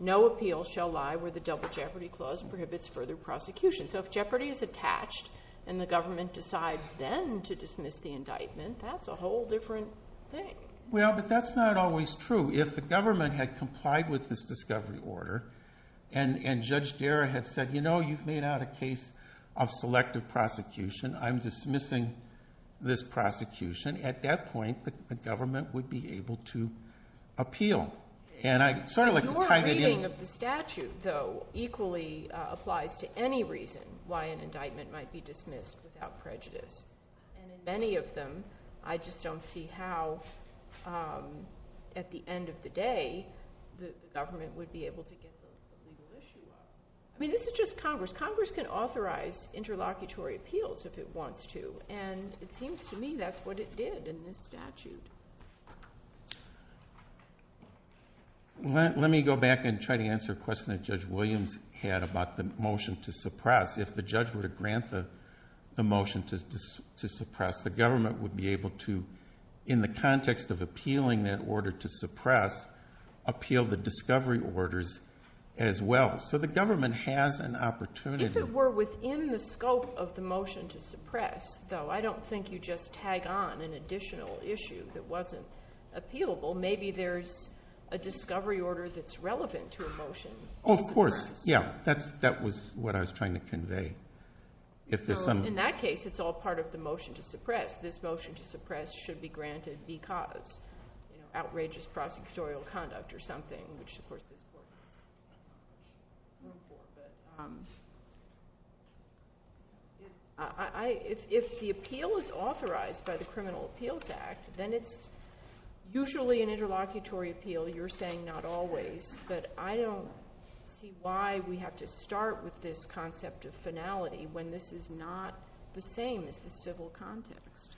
no appeal shall lie where the double jeopardy clause prohibits further prosecution. So if jeopardy is attached and the government decides then to dismiss the indictment, that's a whole different thing. Well, but that's not always true. If the government had complied with this discovery order and Judge Guerra had said, you know, you've made out a case of selective prosecution. I'm dismissing this prosecution. At that point, the government would be able to appeal. And I'm sort of like a private agent. Your reading of the statute, though, equally applies to any reason why an indictment might be dismissed without prejudice. And in many of them, I just don't see how at the end of the day the government would be able to get rid of the legal issue. I mean, this is just Congress. Congress can authorize interlocutory appeals if it wants to. And it seems to me that's what it did in this statute. Let me go back and try to answer a question that Judge Williams had about the motion to suppress. If the judge would grant the motion to suppress, the government would be able to, in the context of appealing that order to suppress, appeal the discovery orders as well. So the government has an opportunity. If it were within the scope of the motion to suppress, though, I don't think you just tag on an additional issue that wasn't appealable. Maybe there's a discovery order that's relevant to a motion. Oh, of course. Yeah, that was what I was trying to convey. In that case, it's all part of the motion to suppress. In fact, this motion to suppress should be granted because outrageous prosecutorial conduct or something. If the appeal is authorized by the Criminal Appeals Act, then it's usually an interlocutory appeal. You're saying not always, but I don't see why we have to start with this concept of finality when this is not the same as the civil context.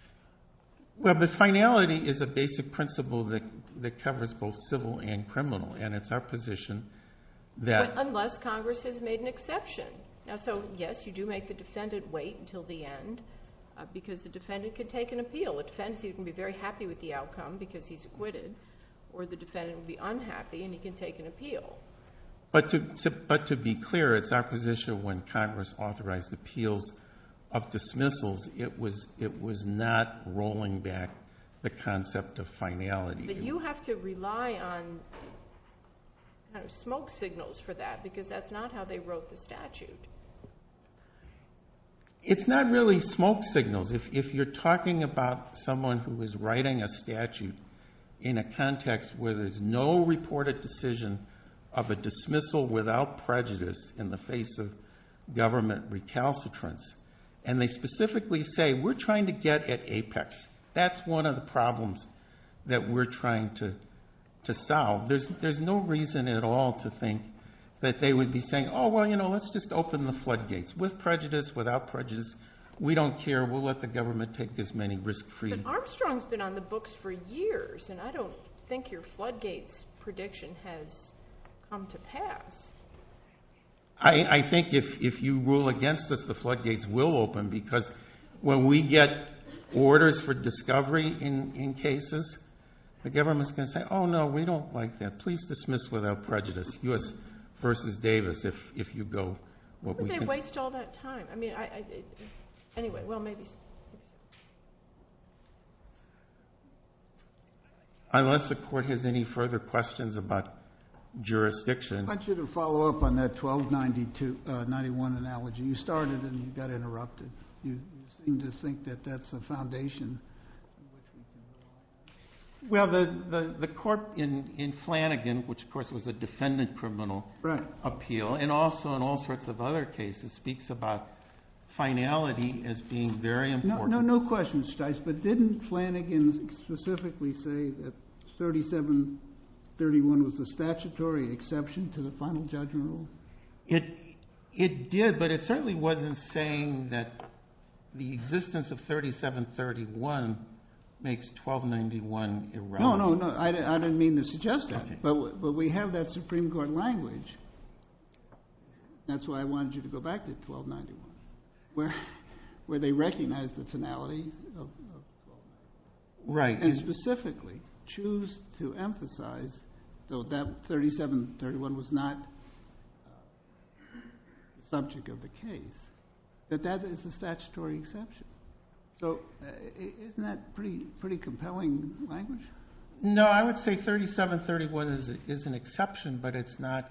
Well, this finality is a basic principle that covers both civil and criminal, and it's our position that Unless Congress has made an exception. So, yes, you do make the defendant wait until the end because the defendant can take an appeal. A defendant can be very happy with the outcome because he's acquitted, or the defendant can be unhappy and he can take an appeal. But to be clear, it's our position when Congress authorized appeals of dismissals, it was not rolling back the concept of finality. But you have to rely on smoke signals for that because that's not how they wrote the statute. It's not really smoke signals. If you're talking about someone who is writing a statute in a context where there's no reported decision of a dismissal without prejudice in the face of government recalcitrance, and they specifically say, we're trying to get at apex. That's one of the problems that we're trying to solve. There's no reason at all to think that they would be saying, oh, well, you know, let's just open the floodgates. With prejudice, without prejudice, we don't care. We'll let the government take as many risk-free. But Armstrong's been on the books for years, and I don't think your floodgates prediction has come to pass. I think if you rule against us, the floodgates will open because when we get orders for discovery in cases, the government's going to say, oh, no, we don't like that. Please dismiss without prejudice, U.S. v. Davis, if you go. But they waste all that time. Anyway, well, maybe. Unless the court has any further questions about jurisdiction. I want you to follow up on that 1291 analogy. You started and you got interrupted. You seem to think that that's the foundation. Well, the court in Flanagan, which of course was a defendant criminal appeal, and also in all sorts of other cases, speaks about finality as being very important. No, no questions, Stice. But didn't Flanagan specifically say that 3731 was a statutory exception to the final judgment rule? It did, but it certainly wasn't saying that the existence of 3731 makes 1291 irrelevant. No, no, I didn't mean to suggest that, but we have that Supreme Court language. That's why I wanted you to go back to 1291, where they recognize the finality of 1291. Right. And specifically choose to emphasize, though that 3731 was not the subject of the case, that that is a statutory exception. So isn't that a pretty compelling language? No, I would say 3731 is an exception, but it's not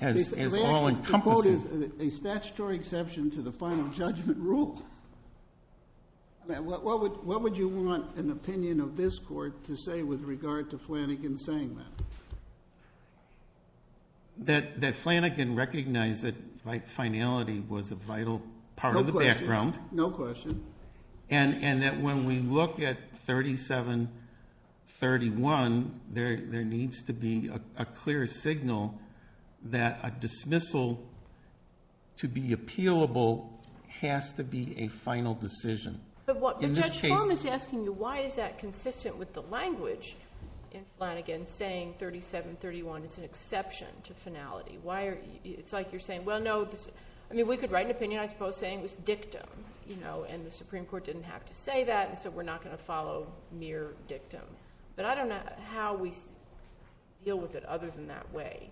as all-encompassing. A statutory exception to the final judgment rule? What would you want an opinion of this court to say with regard to Flanagan saying that? That Flanagan recognized that finality was a vital part of the background. No question. And that when we look at 3731, there needs to be a clear signal that a dismissal, to be appealable, has to be a final decision. But Judge Fong is asking you, why is that consistent with the language in Flanagan saying 3731 is an exception to finality? It's like you're saying, well, no, we could write an opinion, I suppose, saying it was dictum, and the Supreme Court didn't have to say that, so we're not going to follow mere dictum. But I don't know how we deal with it other than that way.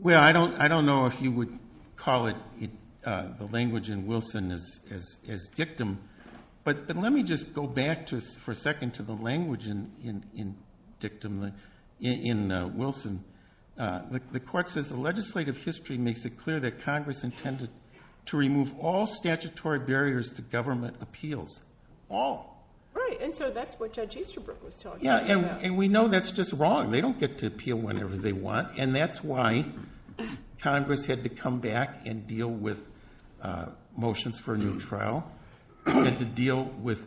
Well, I don't know if you would call the language in Wilson as dictum, but let me just go back for a second to the language in dictum in Wilson. The court says the legislative history makes it clear that Congress intended to remove all statutory barriers to government appeals. All. Right, and so that's what Judge Easterbrook was talking about. Yeah, and we know that's just wrong. They don't get to appeal whenever they want, and that's why Congress had to come back and deal with motions for a new trial, and to deal with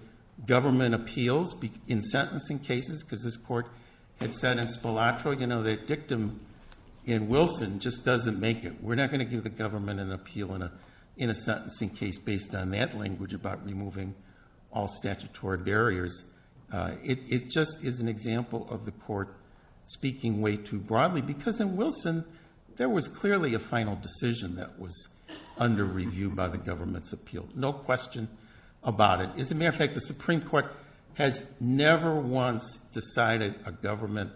government appeals in sentencing cases, because this court had said in Spoleto, you know, that dictum in Wilson just doesn't make it. We're not going to give the government an appeal in a sentencing case based on that language about removing all statutory barriers. It just is an example of the court speaking way too broadly, because in Wilson there was clearly a final decision that was under review by the government's appeal. No question about it. As a matter of fact, the Supreme Court has never once decided a government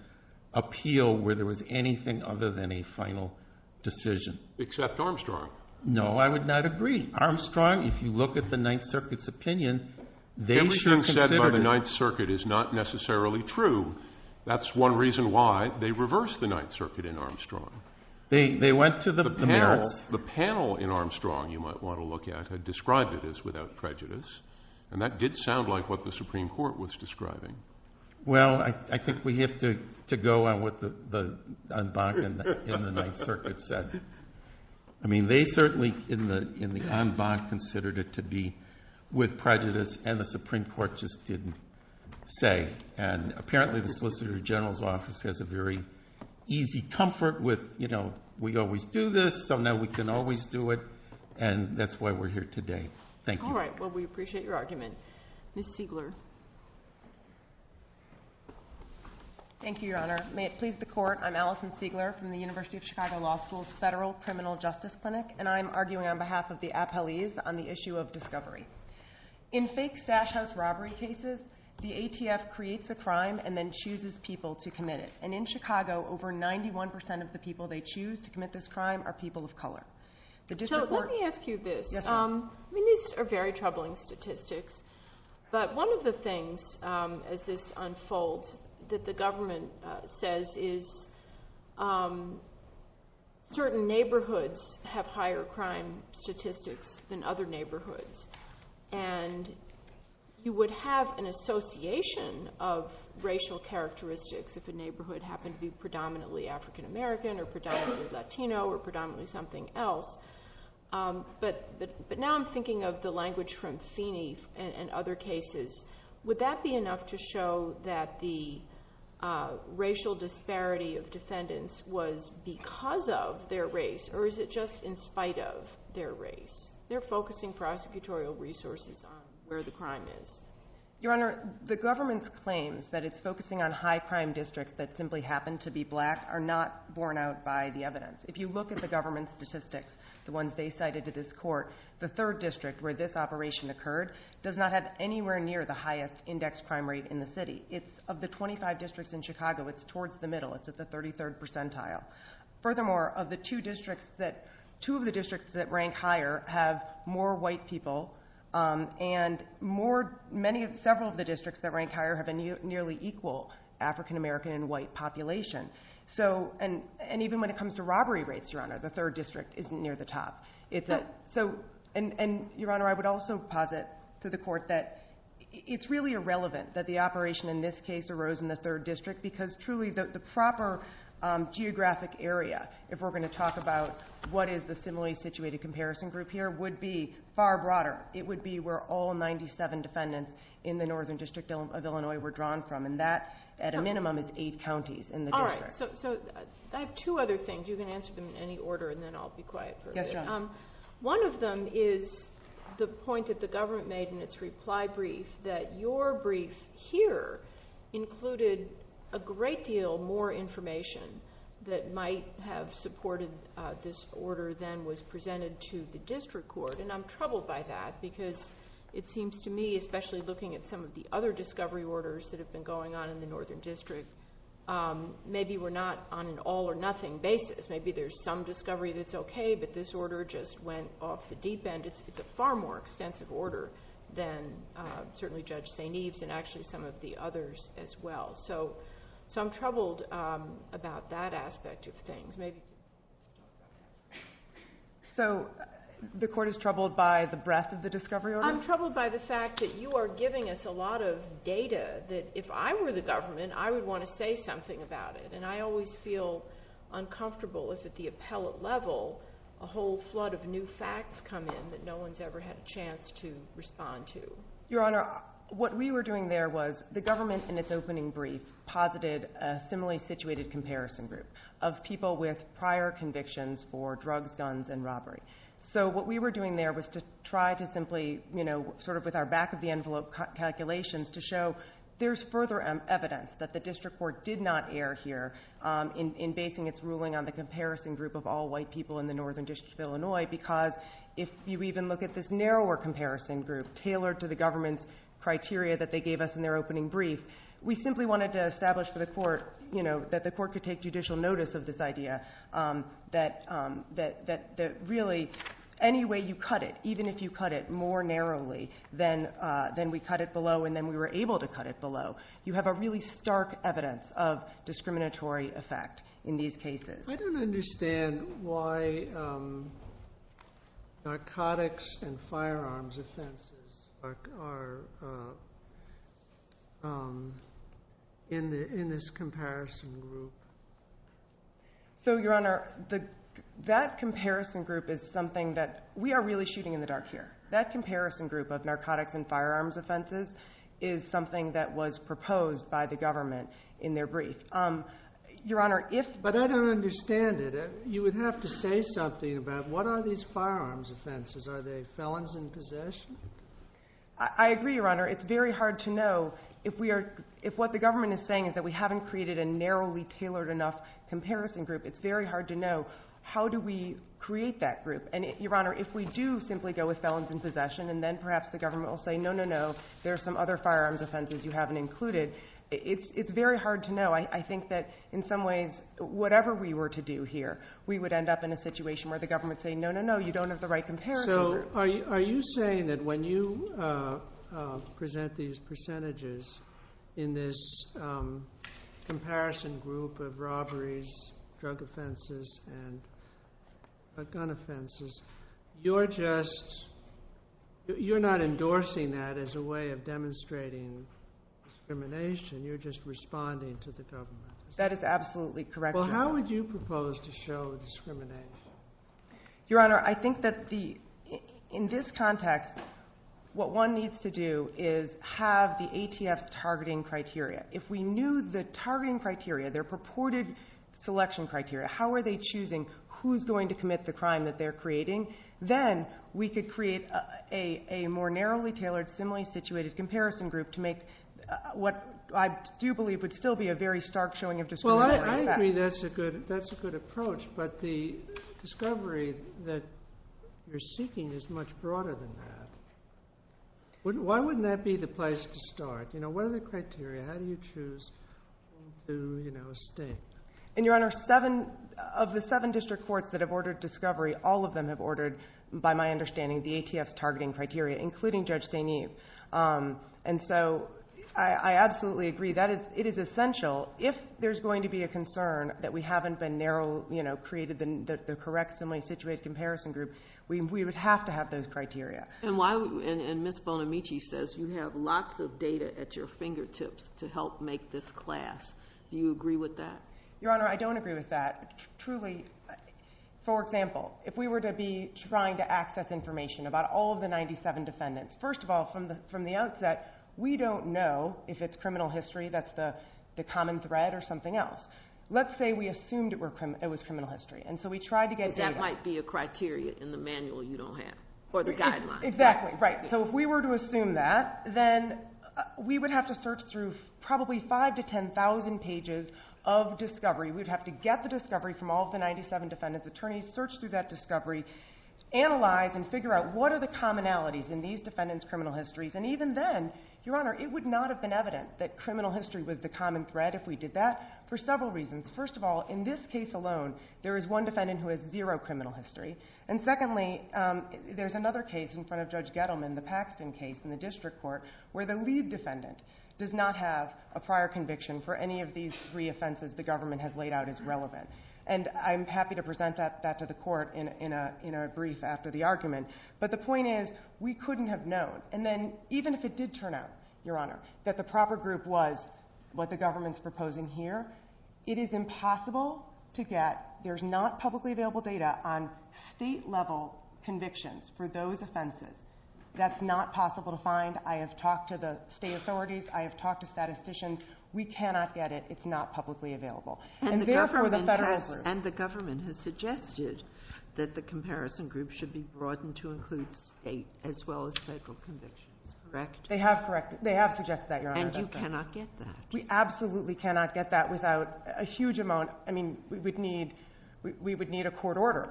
appeal where there was anything other than a final decision. Except Armstrong. No, I would not agree. Armstrong, if you look at the Ninth Circuit's opinion, they should consider it. Anything said by the Ninth Circuit is not necessarily true. That's one reason why they reversed the Ninth Circuit in Armstrong. They went to the panel. The panel in Armstrong, you might want to look at, had described it as without prejudice, and that did sound like what the Supreme Court was describing. Well, I think we have to go on with what Bach in the Ninth Circuit said. I mean, they certainly, in the end, Bach considered it to be with prejudice, and the Supreme Court just didn't say. And apparently the Solicitor General's office has a very easy comfort with, you know, we always do this, so now we can always do it, and that's why we're here today. Thank you. All right, well, we appreciate your argument. Thank you, Your Honor. May it please the Court, I'm Allison Siegler from the University of Chicago Law School's Federal Criminal Justice Clinic, and I'm arguing on behalf of the appellees on the issue of discovery. In fake sash house robbery cases, the ATF creates a crime and then chooses people to commit it, and in Chicago, over 91% of the people they choose to commit this crime are people of color. So let me ask you this. I mean, these are very troubling statistics, but one of the things, as this unfolds, that the government says is certain neighborhoods have higher crime statistics than other neighborhoods, and you would have an association of racial characteristics if a neighborhood happened to be predominantly African American or predominantly Latino or predominantly something else, but now I'm thinking of the language from Phoenix and other cases. Would that be enough to show that the racial disparity of defendants was because of their race, or is it just in spite of their race? They're focusing prosecutorial resources on where the crime is. Your Honor, the government's claims that it's focusing on high crime districts that simply happen to be black are not borne out by the evidence. If you look at the government statistics, the ones they cited to this court, the third district where this operation occurred does not have anywhere near the highest index crime rate in the city. Of the 25 districts in Chicago, it's towards the middle. It's at the 33rd percentile. Furthermore, two of the districts that rank higher have more white people, and several of the districts that rank higher have a nearly equal African American and white population. Even when it comes to robbery rates, Your Honor, the third district isn't near the top. Your Honor, I would also posit to the court that it's really irrelevant that the operation in this case arose in the third district because truly the proper geographic area, if we're going to talk about what is the similarly situated comparison group here, would be far broader. It would be where all 97 defendants in the northern district of Illinois were drawn from, and that at a minimum is eight counties in the district. All right, so I have two other things. You can answer them in any order, and then I'll be quiet for a bit. Yes, Your Honor. One of them is the point that the government made in its reply brief that your brief here included a great deal more information that might have supported this order than was presented to the district court, and I'm troubled by that because it seems to me, especially looking at some of the other discovery orders that have been going on in the northern district, maybe we're not on an all-or-nothing basis. Maybe there's some discovery that's okay, but this order just went off the deep end. It's a far more extensive order than certainly Judge St. Eve's and actually some of the others as well. So I'm troubled about that aspect of things. So the court is troubled by the breadth of the discovery order? I'm troubled by the fact that you are giving us a lot of data that if I were the government, I would want to say something about it, and I always feel uncomfortable if at the appellate level a whole flood of new facts come in that no one's ever had a chance to respond to. Your Honor, what we were doing there was the government, in its opening brief, posited a similarly situated comparison group of people with prior convictions for drugs, guns, and robbery. So what we were doing there was to try to simply, sort of with our back-of-the-envelope calculations, to show there's further evidence that the district court did not err here in basing its ruling on the comparison group of all white people in the northern district of Illinois because if you even look at this narrower comparison group tailored to the government's criteria that they gave us in their opening brief, we simply wanted to establish that the court could take judicial notice of this idea that really any way you cut it, even if you cut it more narrowly than we cut it below and then we were able to cut it below, you have a really stark evidence of discriminatory effect in these cases. I don't understand why narcotics and firearms offenses are in this comparison group. So, Your Honor, that comparison group is something that we are really shooting in the dark here. That comparison group of narcotics and firearms offenses is something that was proposed by the government in their brief. But I don't understand it. You would have to say something about what are these firearms offenses? Are they felons in possession? I agree, Your Honor. It's very hard to know. If what the government is saying is that we haven't created a narrowly tailored enough comparison group, it's very hard to know how do we create that group. And, Your Honor, if we do simply go with felons in possession and then perhaps the government will say, no, no, no, there are some other firearms offenses you haven't included, it's very hard to know. I think that in some ways, whatever we were to do here, we would end up in a situation where the government is saying, no, no, no, you don't have the right comparison. So, are you saying that when you present these percentages in this comparison group of robberies, drug offenses, and gun offenses, you're not endorsing that as a way of demonstrating discrimination. You're just responding to the government. That is absolutely correct, Your Honor. Well, how would you propose to show discrimination? Your Honor, I think that in this context, what one needs to do is have the ATF's targeting criteria. If we knew the targeting criteria, their purported selection criteria, how are they choosing who's going to commit the crime that they're creating, then we could create a more narrowly tailored, similarly situated comparison group to make what I do believe would still be a very stark showing of discrimination. Well, I agree that's a good approach, but the discovery that you're seeking is much broader than that. Why wouldn't that be the place to start? What are the criteria? How do you choose who's going to do a sting? And, Your Honor, of the seven district courts that have ordered discovery, all of them have ordered, by my understanding, the ATF's targeting criteria, including Judge Staineve. And so, I absolutely agree. It is essential. If there's going to be a concern that we haven't been narrow, you know, created the correct, similarly situated comparison group, we would have to have those criteria. And Ms. Bonamici says you have lots of data at your fingertips to help make this class. Do you agree with that? Your Honor, I don't agree with that. For example, if we were to be trying to access information about all of the 97 defendants, first of all, from the outset, we don't know if it's criminal history that's the common thread or something else. Let's say we assumed it was criminal history. That might be a criteria in the manual you don't have for the guidelines. Exactly, right. So, if we were to assume that, then we would have to search through probably 5,000 to 10,000 pages of discovery. We would have to get the discovery from all of the 97 defendant's attorneys, search through that discovery, analyze and figure out what are the commonalities in these defendants' criminal histories. And even then, Your Honor, it would not have been evident that criminal history was the common thread if we did that for several reasons. First of all, in this case alone, there is one defendant who has zero criminal history. And secondly, there's another case in front of Judge Gettleman, the Paxton case in the district court, where the lead defendant does not have a prior conviction for any of these three offenses the government has laid out as relevant. And I'm happy to present that to the court in a brief after the argument. But the point is, we couldn't have known. And then, even if it did turn out, Your Honor, that the proper group was what the government's proposing here, it is impossible to get – there's not publicly available data on state-level convictions for those offenses. That's not possible to find. I have talked to the state authorities. I have talked to statisticians. We cannot get it. It's not publicly available. And therefore, the federal reserve – And the government has suggested that the comparison group should be broadened to include state as well as federal convictions, correct? They have suggested that, Your Honor. And you cannot get that? We absolutely cannot get that without a huge amount – I mean, we would need a court order,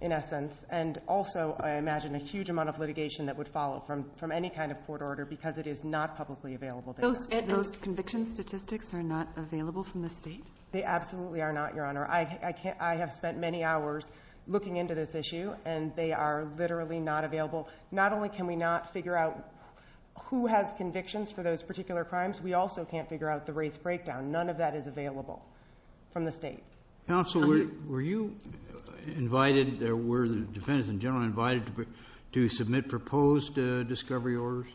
in essence. And also, I imagine, a huge amount of litigation that would follow from any kind of court order because it is not publicly available data. So those conviction statistics are not available from the state? They absolutely are not, Your Honor. I have spent many hours looking into this issue, and they are literally not available. Not only can we not figure out who has convictions for those particular crimes, we also can't figure out the race breakdown. None of that is available from the state. Counsel, were you invited – were the defendants in general invited to submit proposed discovery orders?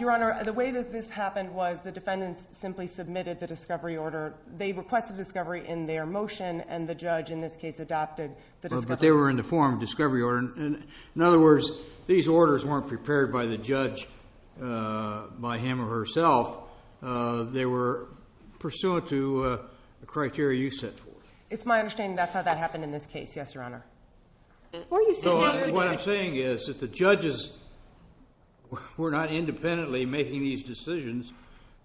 Your Honor, the way that this happened was the defendants simply submitted the discovery order. They requested discovery in their motion, and the judge, in this case, adapted the discovery order. But they were in the form of discovery order. In other words, these orders weren't prepared by the judge, by him or herself. They were pursuant to the criteria you set forth. It's my understanding that's how that happened in this case, yes, Your Honor. What I'm saying is that the judges were not independently making these decisions.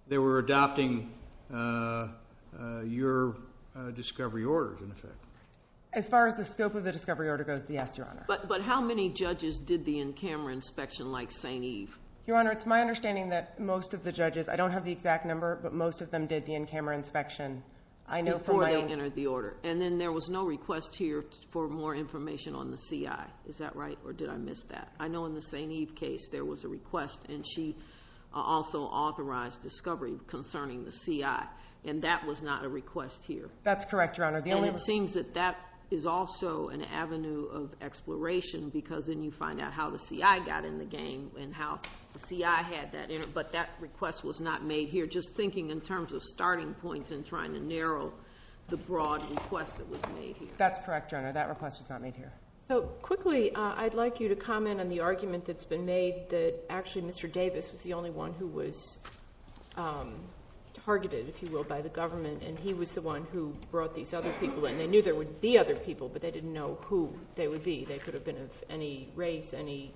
They were adopting your discovery orders, in effect. As far as the scope of the discovery order goes, yes, Your Honor. But how many judges did the in-camera inspection like St. Eve? Your Honor, it's my understanding that most of the judges – I don't have the exact number, but most of them did the in-camera inspection. Before they entered the order. And then there was no request here for more information on the CI. Is that right, or did I miss that? I know in the St. Eve case there was a request, and she also authorized discovery concerning the CI. And that was not a request here. That's correct, Your Honor. And it seems that that is also an avenue of exploration because then you find out how the CI got in the game and how the CI had that. But that request was not made here. Just thinking in terms of starting points and trying to narrow the broad request that was made here. That's correct, Your Honor. That request was not made here. So quickly, I'd like you to comment on the argument that's been made that actually Mr. Davis was the only one who was targeted, if you will, by the government. And he was the one who brought these other people in. They knew there would be other people, but they didn't know who they would be. They could have been of any race, any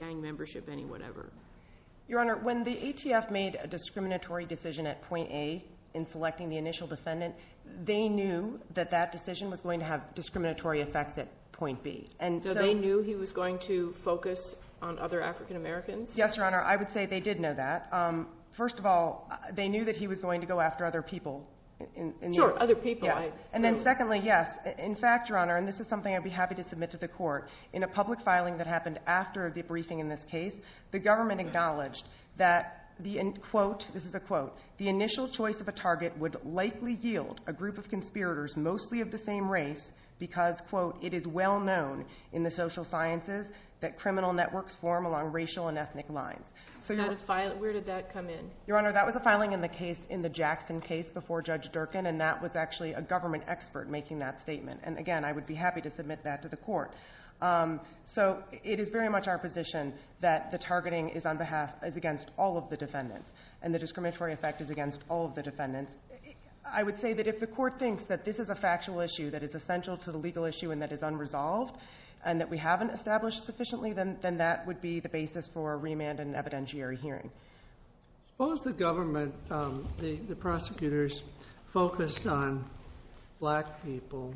gang membership, any whatever. Your Honor, when the ETF made a discriminatory decision at point A in selecting the initial descendant, they knew that that decision was going to have discriminatory effects at point B. So they knew he was going to focus on other African Americans? Yes, Your Honor. I would say they did know that. First of all, they knew that he was going to go after other people. Sure, other people. And then secondly, yes. In fact, Your Honor, and this is something I'd be happy to submit to the court, in a public filing that happened after a debriefing in this case, the government acknowledged that, quote, this is a quote, the initial choice of a target would likely yield a group of conspirators mostly of the same race because, quote, it is well known in the social sciences that criminal networks form along racial and ethnic lines. Where did that come in? Your Honor, that was a filing in the Jackson case before Judge Durkin, and that was actually a government expert making that statement. And again, I would be happy to submit that to the court. So it is very much our position that the targeting is on behalf, is against all of the defendants, and the discriminatory effect is against all of the defendants. I would say that if the court thinks that this is a factual issue that is essential to the legal issue and that it's unresolved and that we haven't established sufficiently, then that would be the basis for a remand and evidentiary hearing. Suppose the government, the prosecutors, focused on black people,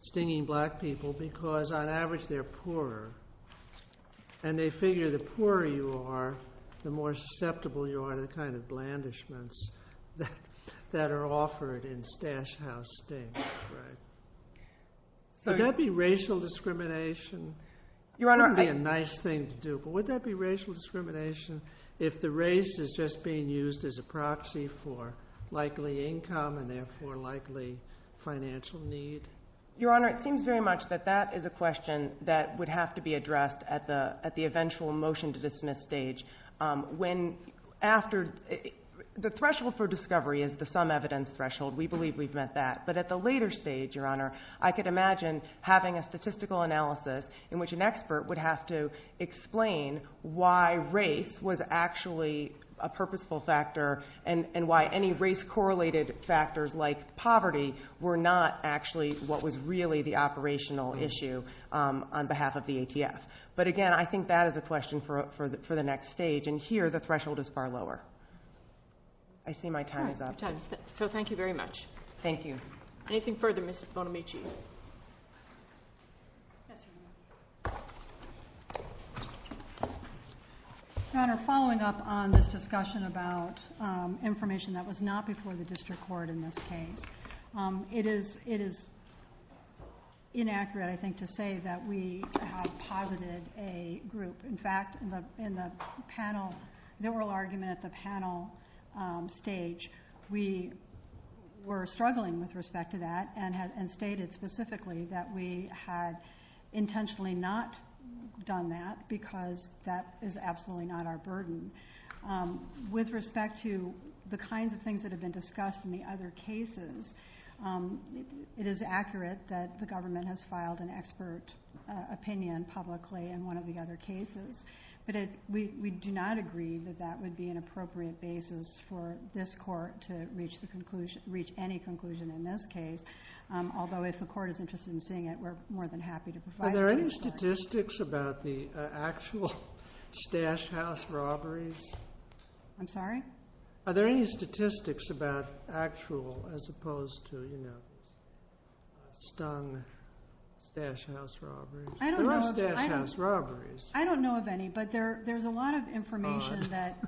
stinging black people, because on average they're poorer, and they figure the poorer you are, the more susceptible you are to the kind of blandishments that are offered in Stash House Sting. Would that be racial discrimination? It would be a nice thing to do, but would that be racial discrimination if the race is just being used as a proxy for likely income and therefore likely financial need? Your Honor, it seems very much that that is a question that would have to be addressed at the eventual motion to dismiss stage. The threshold for discovery is the sum evidence threshold. We believe we've met that, but at the later stage, Your Honor, I could imagine having a statistical analysis in which an expert would have to explain why race was actually a purposeful factor and why any race-correlated factors like poverty were not actually what was really the operational issue on behalf of the ATS. But again, I think that is a question for the next stage, and here the threshold is far lower. I see my time is up. Thank you very much. Thank you. Anything further, Mrs. Bonamici? Your Honor, following up on this discussion about information that was not before the district court in this case, it is inaccurate, I think, to say that we have posited a group. In fact, in the panel, the oral argument at the panel stage, we were struggling with respect to that and stated specifically that we had intentionally not done that because that is absolutely not our burden. With respect to the kinds of things that have been discussed in the other cases, it is accurate that the government has filed an expert opinion publicly in one of the other cases, but we do not agree that that would be an appropriate basis for this court to reach any conclusion in this case, although if the court is interested in seeing it, we're more than happy to provide it. Are there any statistics about the actual stash house robberies? I'm sorry? Are there any statistics about actual as opposed to, you know, stung stash house robberies? I don't know of any, but there's a lot of information that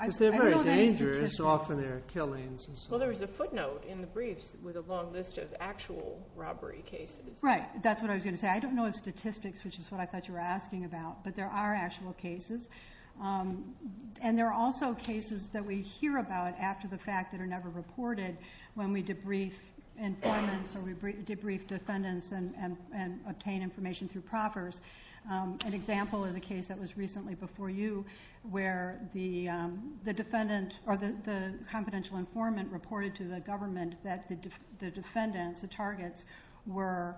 I don't know of any statistics. Because they're very dangerous, often they're killings. Well, there was a footnote in the briefs with a long list of actual robbery cases. Right, that's what I was going to say. I don't know of statistics, which is what I thought you were asking about, but there are actual cases. And there are also cases that we hear about after the fact that are never reported when we debrief informants or debrief defendants and obtain information through proffers. An example of the case that was recently before you where the defendant or the confidential informant reported to the government that the defendants, the targets, were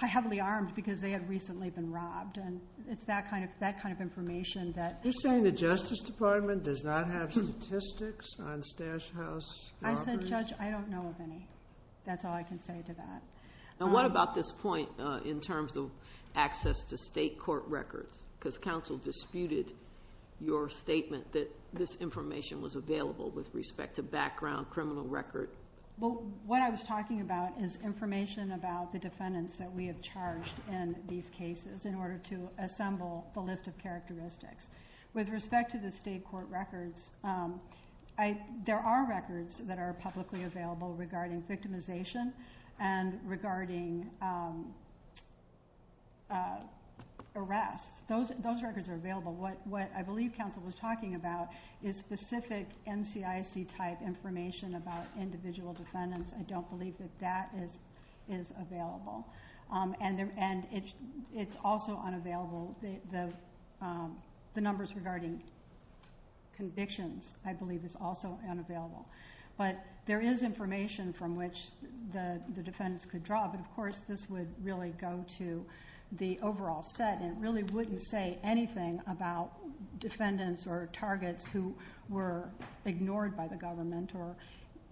heavily armed because they had recently been robbed. It's that kind of information. Are you saying the Justice Department does not have statistics on stash house robberies? I said, Judge, I don't know of any. That's all I can say to that. And what about this point in terms of access to state court records? Because counsel disputed your statement that this information was available with respect to background criminal records. Well, what I was talking about is information about the defendants that we have charged in these cases in order to assemble the list of characteristics. With respect to the state court records, there are records that are publicly available regarding victimization and regarding arrests. Those records are available. What I believe counsel was talking about is specific NCIC-type information about individual defendants. I don't believe that that is available. And it's also unavailable. The numbers regarding convictions, I believe, is also unavailable. But there is information from which the defendants could draw, and, of course, this would really go to the overall set and really wouldn't say anything about defendants or targets who were ignored by the government or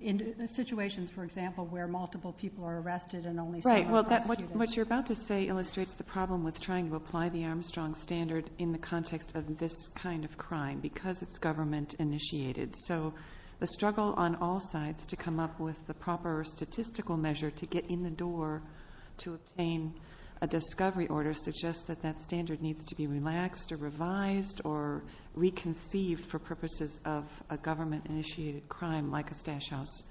in situations, for example, where multiple people were arrested and only seven were arrested. Right. What you're about to say illustrates the problem with trying to apply the Armstrong Standard in the context of this kind of crime because it's government-initiated. So the struggle on all sides to come up with the proper statistical measure to get in the door to obtain a discovery order suggests that that standard needs to be relaxed or revised or reconceived for purposes of a government-initiated crime like a stash house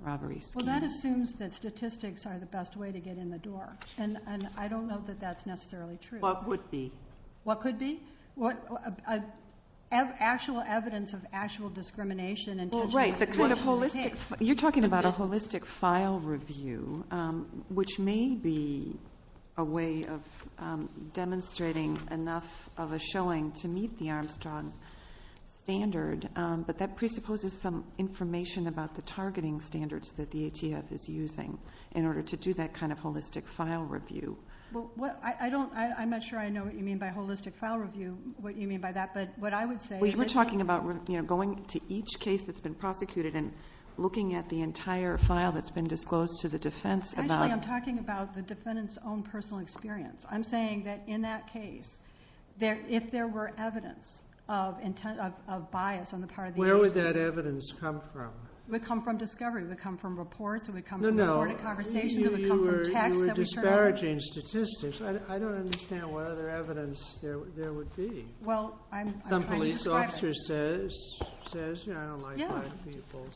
robbery. Well, that assumes that statistics are the best way to get in the door, and I don't know that that's necessarily true. What would be? What could be? Actual evidence of actual discrimination. You're talking about a holistic file review, which may be a way of demonstrating enough of a showing to meet the Armstrong Standard, but that presupposes some information about the targeting standards that the HES is using in order to do that kind of holistic file review. I'm not sure I know what you mean by holistic file review, what you mean by that, but what I would say is... We're talking about going to each case that's been propagated and looking at the entire file that's been disclosed to the defense about... Actually, I'm talking about the defendant's own personal experience. I'm saying that in that case, if there were evidence of bias on the part of... Where would that evidence come from? It would come from discovery. It would come from reports. It would come from reported conversations. You were discouraging statistics. I don't understand what other evidence there would be. Some police officer says, you know, I don't like white people.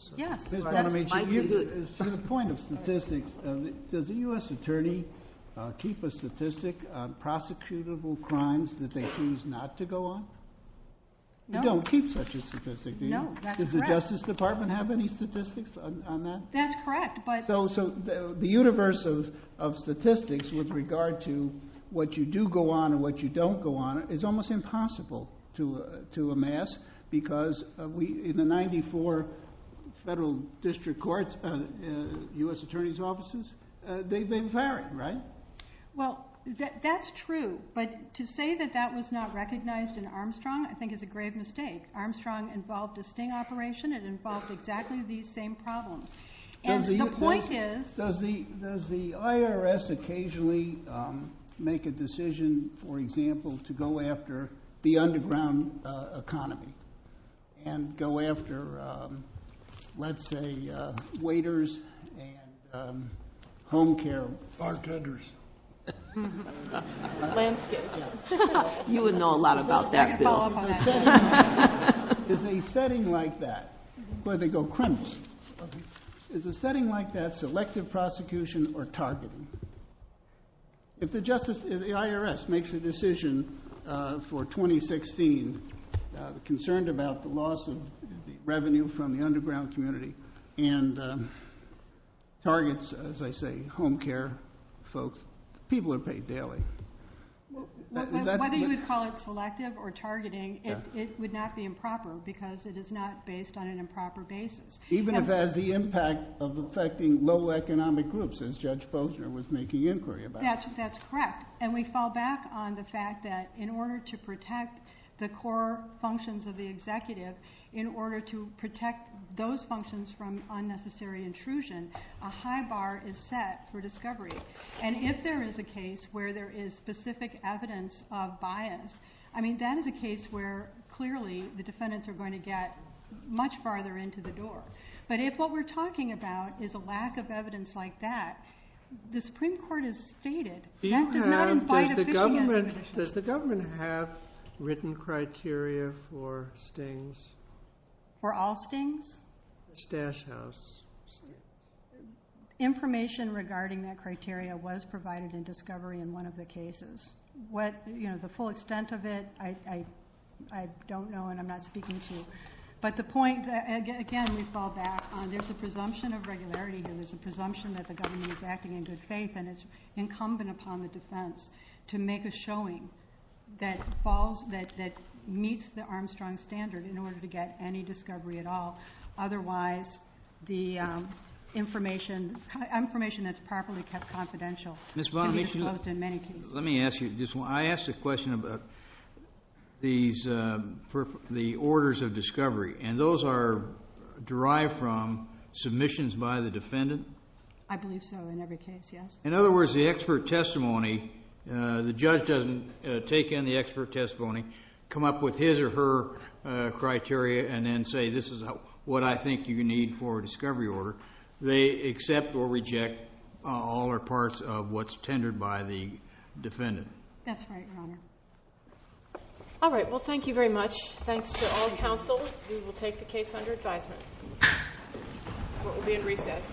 To the point of statistics, does a U.S. attorney keep a statistic on prosecutable crimes that they choose not to go on? You don't keep such a statistic, do you? Does the Justice Department have any statistics on that? That's correct, but... So the universe of statistics with regard to what you do go on and what you don't go on is almost impossible to amass because in the 94 federal district courts, U.S. attorney's offices, they've been varied, right? Well, that's true, but to say that that was not recognized in Armstrong I think is a grave mistake. Armstrong involved a sting operation. It involved exactly these same problems. The point is... Does the IRS occasionally make a decision, for example, to go after the underground economy and go after, let's say, waiters and home care bartenders? Is a setting like that, where they go criminals, is a setting like that selective prosecution or targeting? If the IRS makes a decision for 2016 concerned about the loss of revenue from the underground community and targets, as I say, home care folks, people are paid daily. Whether you would call it selective or targeting, it would not be improper because it is not based on an improper basis. Even if it has the impact of affecting low economic groups, as Judge Posner was making inquiry about. That's correct, and we fall back on the fact that in order to protect the core functions of the executive, in order to protect those functions from unnecessary intrusion, a high bar is set for discovery. If there is a case where there is specific evidence of bias, that is a case where clearly the defendants are going to get much farther into the door. But if what we're talking about is a lack of evidence like that, the Supreme Court has stated... Does the government have written criteria for stings? For all stings? Stash house. Information regarding that criteria was provided in discovery in one of the cases. The full extent of it, I don't know and I'm not speaking to. But the point, again, we fall back on, there's a presumption of regularity, there's a presumption that the government is acting in good faith, and it's incumbent upon the defense to make a showing that meets the Armstrong standard in order to get any discovery at all. Otherwise, the information is properly confidential. Ms. Bonamici, let me ask you, I asked a question about the orders of discovery, and those are derived from submissions by the defendant? I believe so, in every case, yes. In other words, the expert testimony, the judge doesn't take in the expert testimony, come up with his or her criteria, and then say this is what I think you need for a discovery order. They accept or reject all or parts of what's tendered by the defendant. That's right, Your Honor. All right, well, thank you very much. Thanks to all the counsel. We will take the case under advisement. Court will be in recess.